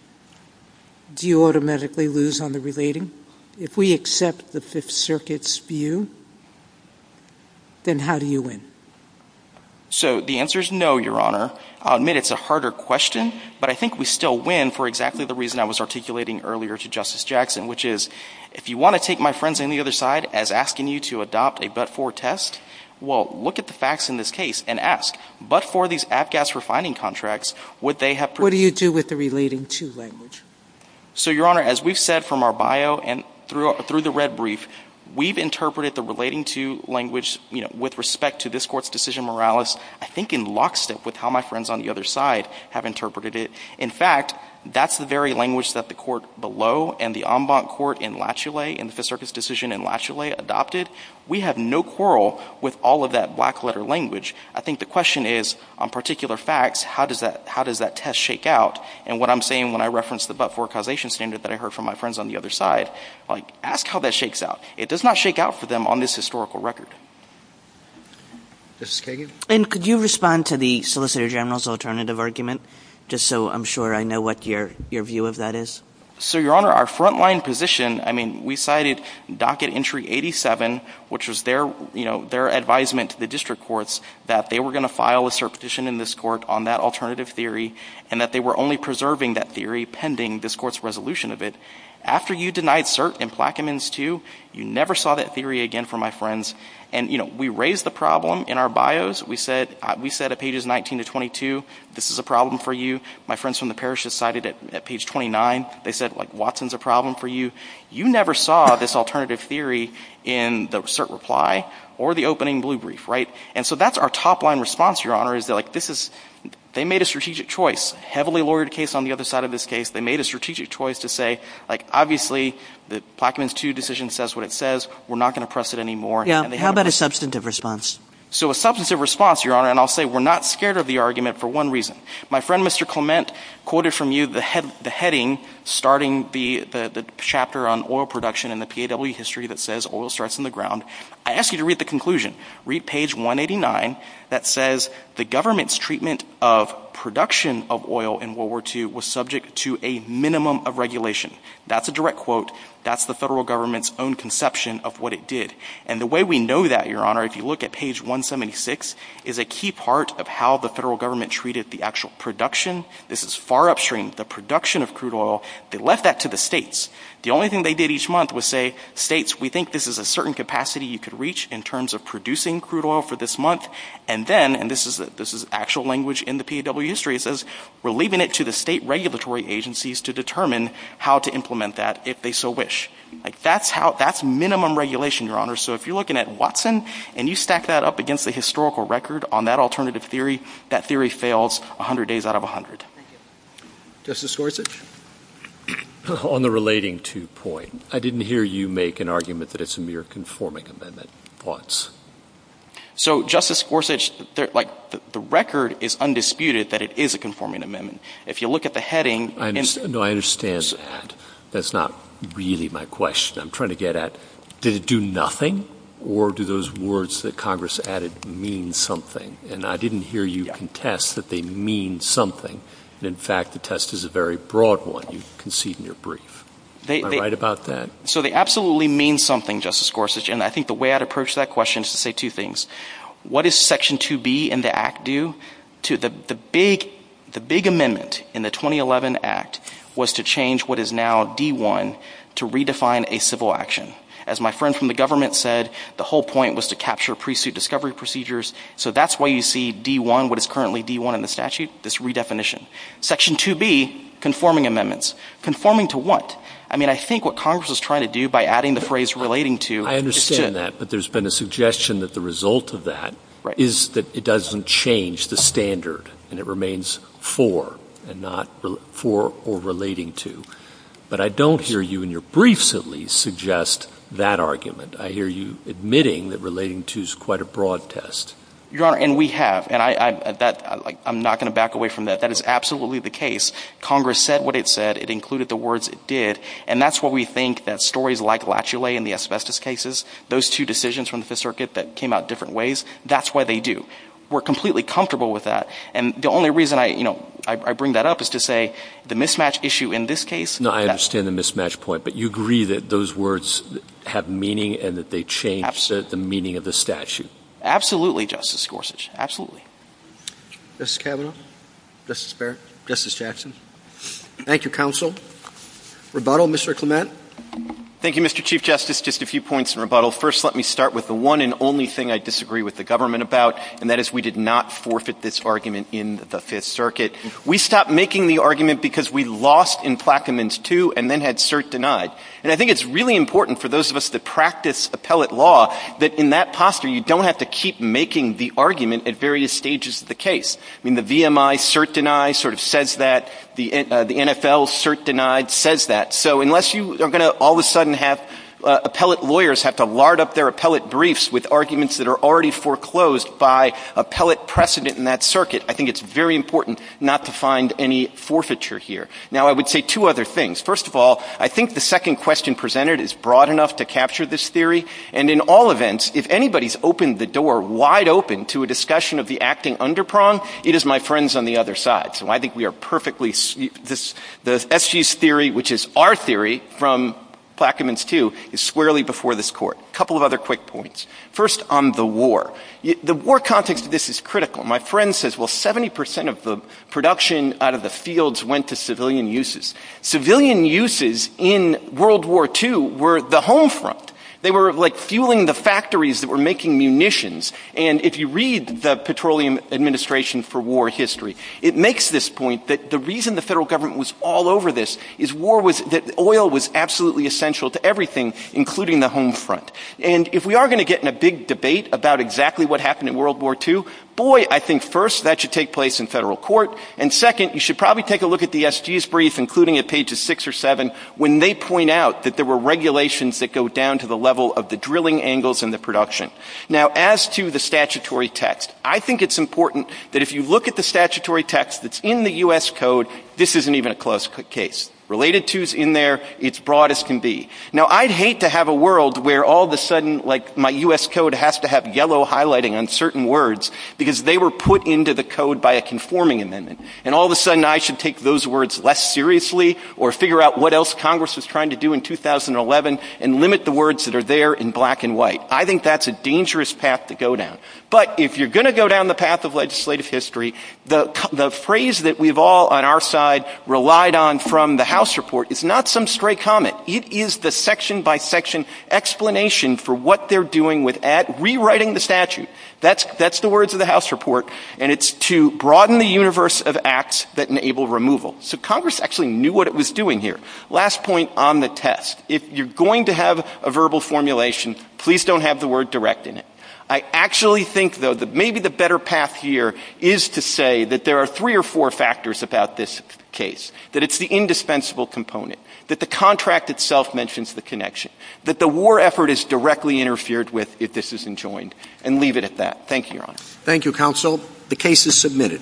do you automatically lose on the relating? If we accept the Fifth Circuit's view, then how do you win? So the answer is no, Your Honor. I'll admit it's a harder question, but I think we still win for exactly the reason I was articulating earlier to Justice Jackson, which is if you want to take my friends on the other side as asking you to adopt a but-for test, well, look at the facts in this case and ask. But-for these AFGAS refining contracts, would they have to— What do you do with the relating-to language? So, Your Honor, as we've said from our bio and through the red brief, we've interpreted the relating-to language with respect to this court's decision moralis, I think in lockstep with how my friends on the other side have interpreted it. In fact, that's the very language that the court below and the en banc court in Latchley and the Fifth Circuit's decision in Latchley adopted. We have no quarrel with all of that black-letter language. I think the question is, on particular facts, how does that test shake out? And what I'm saying when I reference the but-for causation standard that I heard from my friends on the other side, like, ask how that shakes out. It does not shake out for them on this historical record. Justice Kagan? And could you respond to the solicitor general's alternative argument, just so I'm sure I know what your view of that is? So, Your Honor, our front-line position, I mean, we cited Docket Entry 87, which was their advisement to the district courts that they were going to file a cert petition in this court on that alternative theory and that they were only preserving that theory pending this court's resolution of it. After you denied cert in Plaquemines 2, you never saw that theory again from my friends. And, you know, we raised the problem in our bios. We said at pages 19 to 22, this is a problem for you. My friends from the parish just cited it at page 29. They said, like, Watson's a problem for you. You never saw this alternative theory in the cert reply or the opening blue brief, right? And so that's our top-line response, Your Honor, is that, like, this is – they made a strategic choice, a heavily lawyered case on the other side of this case. They made a strategic choice to say, like, obviously, the Plaquemines 2 decision says what it says. We're not going to press it anymore. How about a substantive response? So a substantive response, Your Honor, and I'll say we're not scared of the argument for one reason. My friend Mr. Clement quoted from you the heading starting the chapter on oil production in the PAW history that says oil starts in the ground. I ask you to read the conclusion. Read page 189 that says the government's treatment of production of oil in World War II was subject to a minimum of regulation. That's a direct quote. That's the federal government's own conception of what it did. And the way we know that, Your Honor, if you look at page 176, is a key part of how the federal government treated the actual production. This is far upstream. The production of crude oil, they left that to the states. The only thing they did each month was say, states, we think this is a certain capacity you could reach in terms of producing crude oil for this month. And then, and this is actual language in the PAW history, it says, we're leaving it to the state regulatory agencies to determine how to implement that if they so wish. That's minimum regulation, Your Honor. So if you're looking at Watson and you stack that up against the historical record on that alternative theory, that theory fails 100 days out of 100. Justice Gorsuch? On the relating to point, I didn't hear you make an argument that it's a mere conforming amendment once. So Justice Gorsuch, the record is undisputed that it is a conforming amendment. If you look at the heading, No, I understand that. That's not really my question. I'm trying to get at, did it do nothing? Or do those words that Congress added mean something? And I didn't hear you contest that they mean something. In fact, the test is a very broad one. You concede in your brief. You're right about that. So they absolutely mean something, Justice Gorsuch. And I think the way I'd approach that question is to say two things. What does Section 2B in the Act do? The big amendment in the 2011 Act was to change what is now D-1 to redefine a civil action. As my friend from the government said, the whole point was to capture pre-suit discovery procedures. So that's why you see D-1, what is currently D-1 in the statute, this redefinition. Section 2B, conforming amendments. Conforming to what? I mean, I think what Congress was trying to do by adding the phrase relating to. I understand that. But there's been a suggestion that the result of that is that it doesn't change the standard, and it remains for, and not for or relating to. But I don't hear you in your briefs, at least, suggest that argument. I hear you admitting that relating to is quite a broad test. Your Honor, and we have. And I'm not going to back away from that. That is absolutely the case. Congress said what it said. It included the words it did. And that's why we think that stories like Lachulet in the asbestos cases, those two decisions from the Fifth Circuit that came out different ways, that's why they do. We're completely comfortable with that. And the only reason I bring that up is to say the mismatch issue in this case. No, I understand the mismatch point. But you agree that those words have meaning and that they change the meaning of the statute. Absolutely, Justice Gorsuch. Absolutely. Justice Kavanaugh? Justice Fair? Justice Jackson? Thank you, Counsel. Rebuttal, Mr. Clement? Thank you, Mr. Chief Justice. Just a few points in rebuttal. First, let me start with the one and only thing I disagree with the government about, and that is we did not forfeit this argument in the Fifth Circuit. We stopped making the argument because we lost in Plaquemines 2 and then had cert denied. And I think it's really important for those of us that practice appellate law that in that posture, you don't have to keep making the argument at various stages of the case. The VMI cert deny sort of says that. The NFL cert denied says that. So unless you are going to all of a sudden have appellate lawyers have to lard up their appellate briefs with arguments that are already foreclosed by appellate precedent in that circuit, I think it's very important not to find any forfeiture here. Now, I would say two other things. First of all, I think the second question presented is broad enough to capture this theory. And in all events, if anybody's opened the door wide open to a discussion of the acting underprong, it is my friends on the other side. So I think we are perfectly—the FG's theory, which is our theory from Plaquemines 2, is squarely before this court. A couple of other quick points. First, on the war. The war context of this is critical. My friend says, well, 70% of the production out of the fields went to civilian uses. Civilian uses in World War II were the home front. They were like fueling the factories that were making munitions. And if you read the Petroleum Administration for War History, it makes this point that the reason the federal government was all over this is that oil was absolutely essential to everything, including the home front. And if we are going to get in a big debate about exactly what happened in World War II, boy, I think first that should take place in federal court. And second, you should probably take a look at the FG's brief, including at pages 6 or 7, when they point out that there were regulations that go down to the level of the drilling angles and the production. Now, as to the statutory text, I think it's important that if you look at the statutory text that's in the U.S. Code, this isn't even a close case. Related to is in there. It's broad as can be. Now, I'd hate to have a world where all of a sudden, like, my U.S. Code has to have yellow highlighting on certain words because they were put into the code by a conforming amendment. And all of a sudden, I should take those words less seriously or figure out what else Congress is trying to do in 2011 and limit the words that are there in black and white. I think that's a dangerous path to go down. But if you're going to go down the path of legislative history, the phrase that we've all on our side relied on from the House report, it's not some stray comment. It is the section-by-section explanation for what they're doing with rewriting the statute. That's the words of the House report. And it's to broaden the universe of acts that enable removal. So Congress actually knew what it was doing here. Last point on the test. If you're going to have a verbal formulation, please don't have the word direct in it. I actually think, though, that maybe the better path here is to say that there are three or four factors about this case. That it's the indispensable component. That the contract itself mentions the connection. That the war effort is directly interfered with if this isn't joined. And leave it at that. Thank you, Your Honor. Thank you, Counsel. The case is submitted.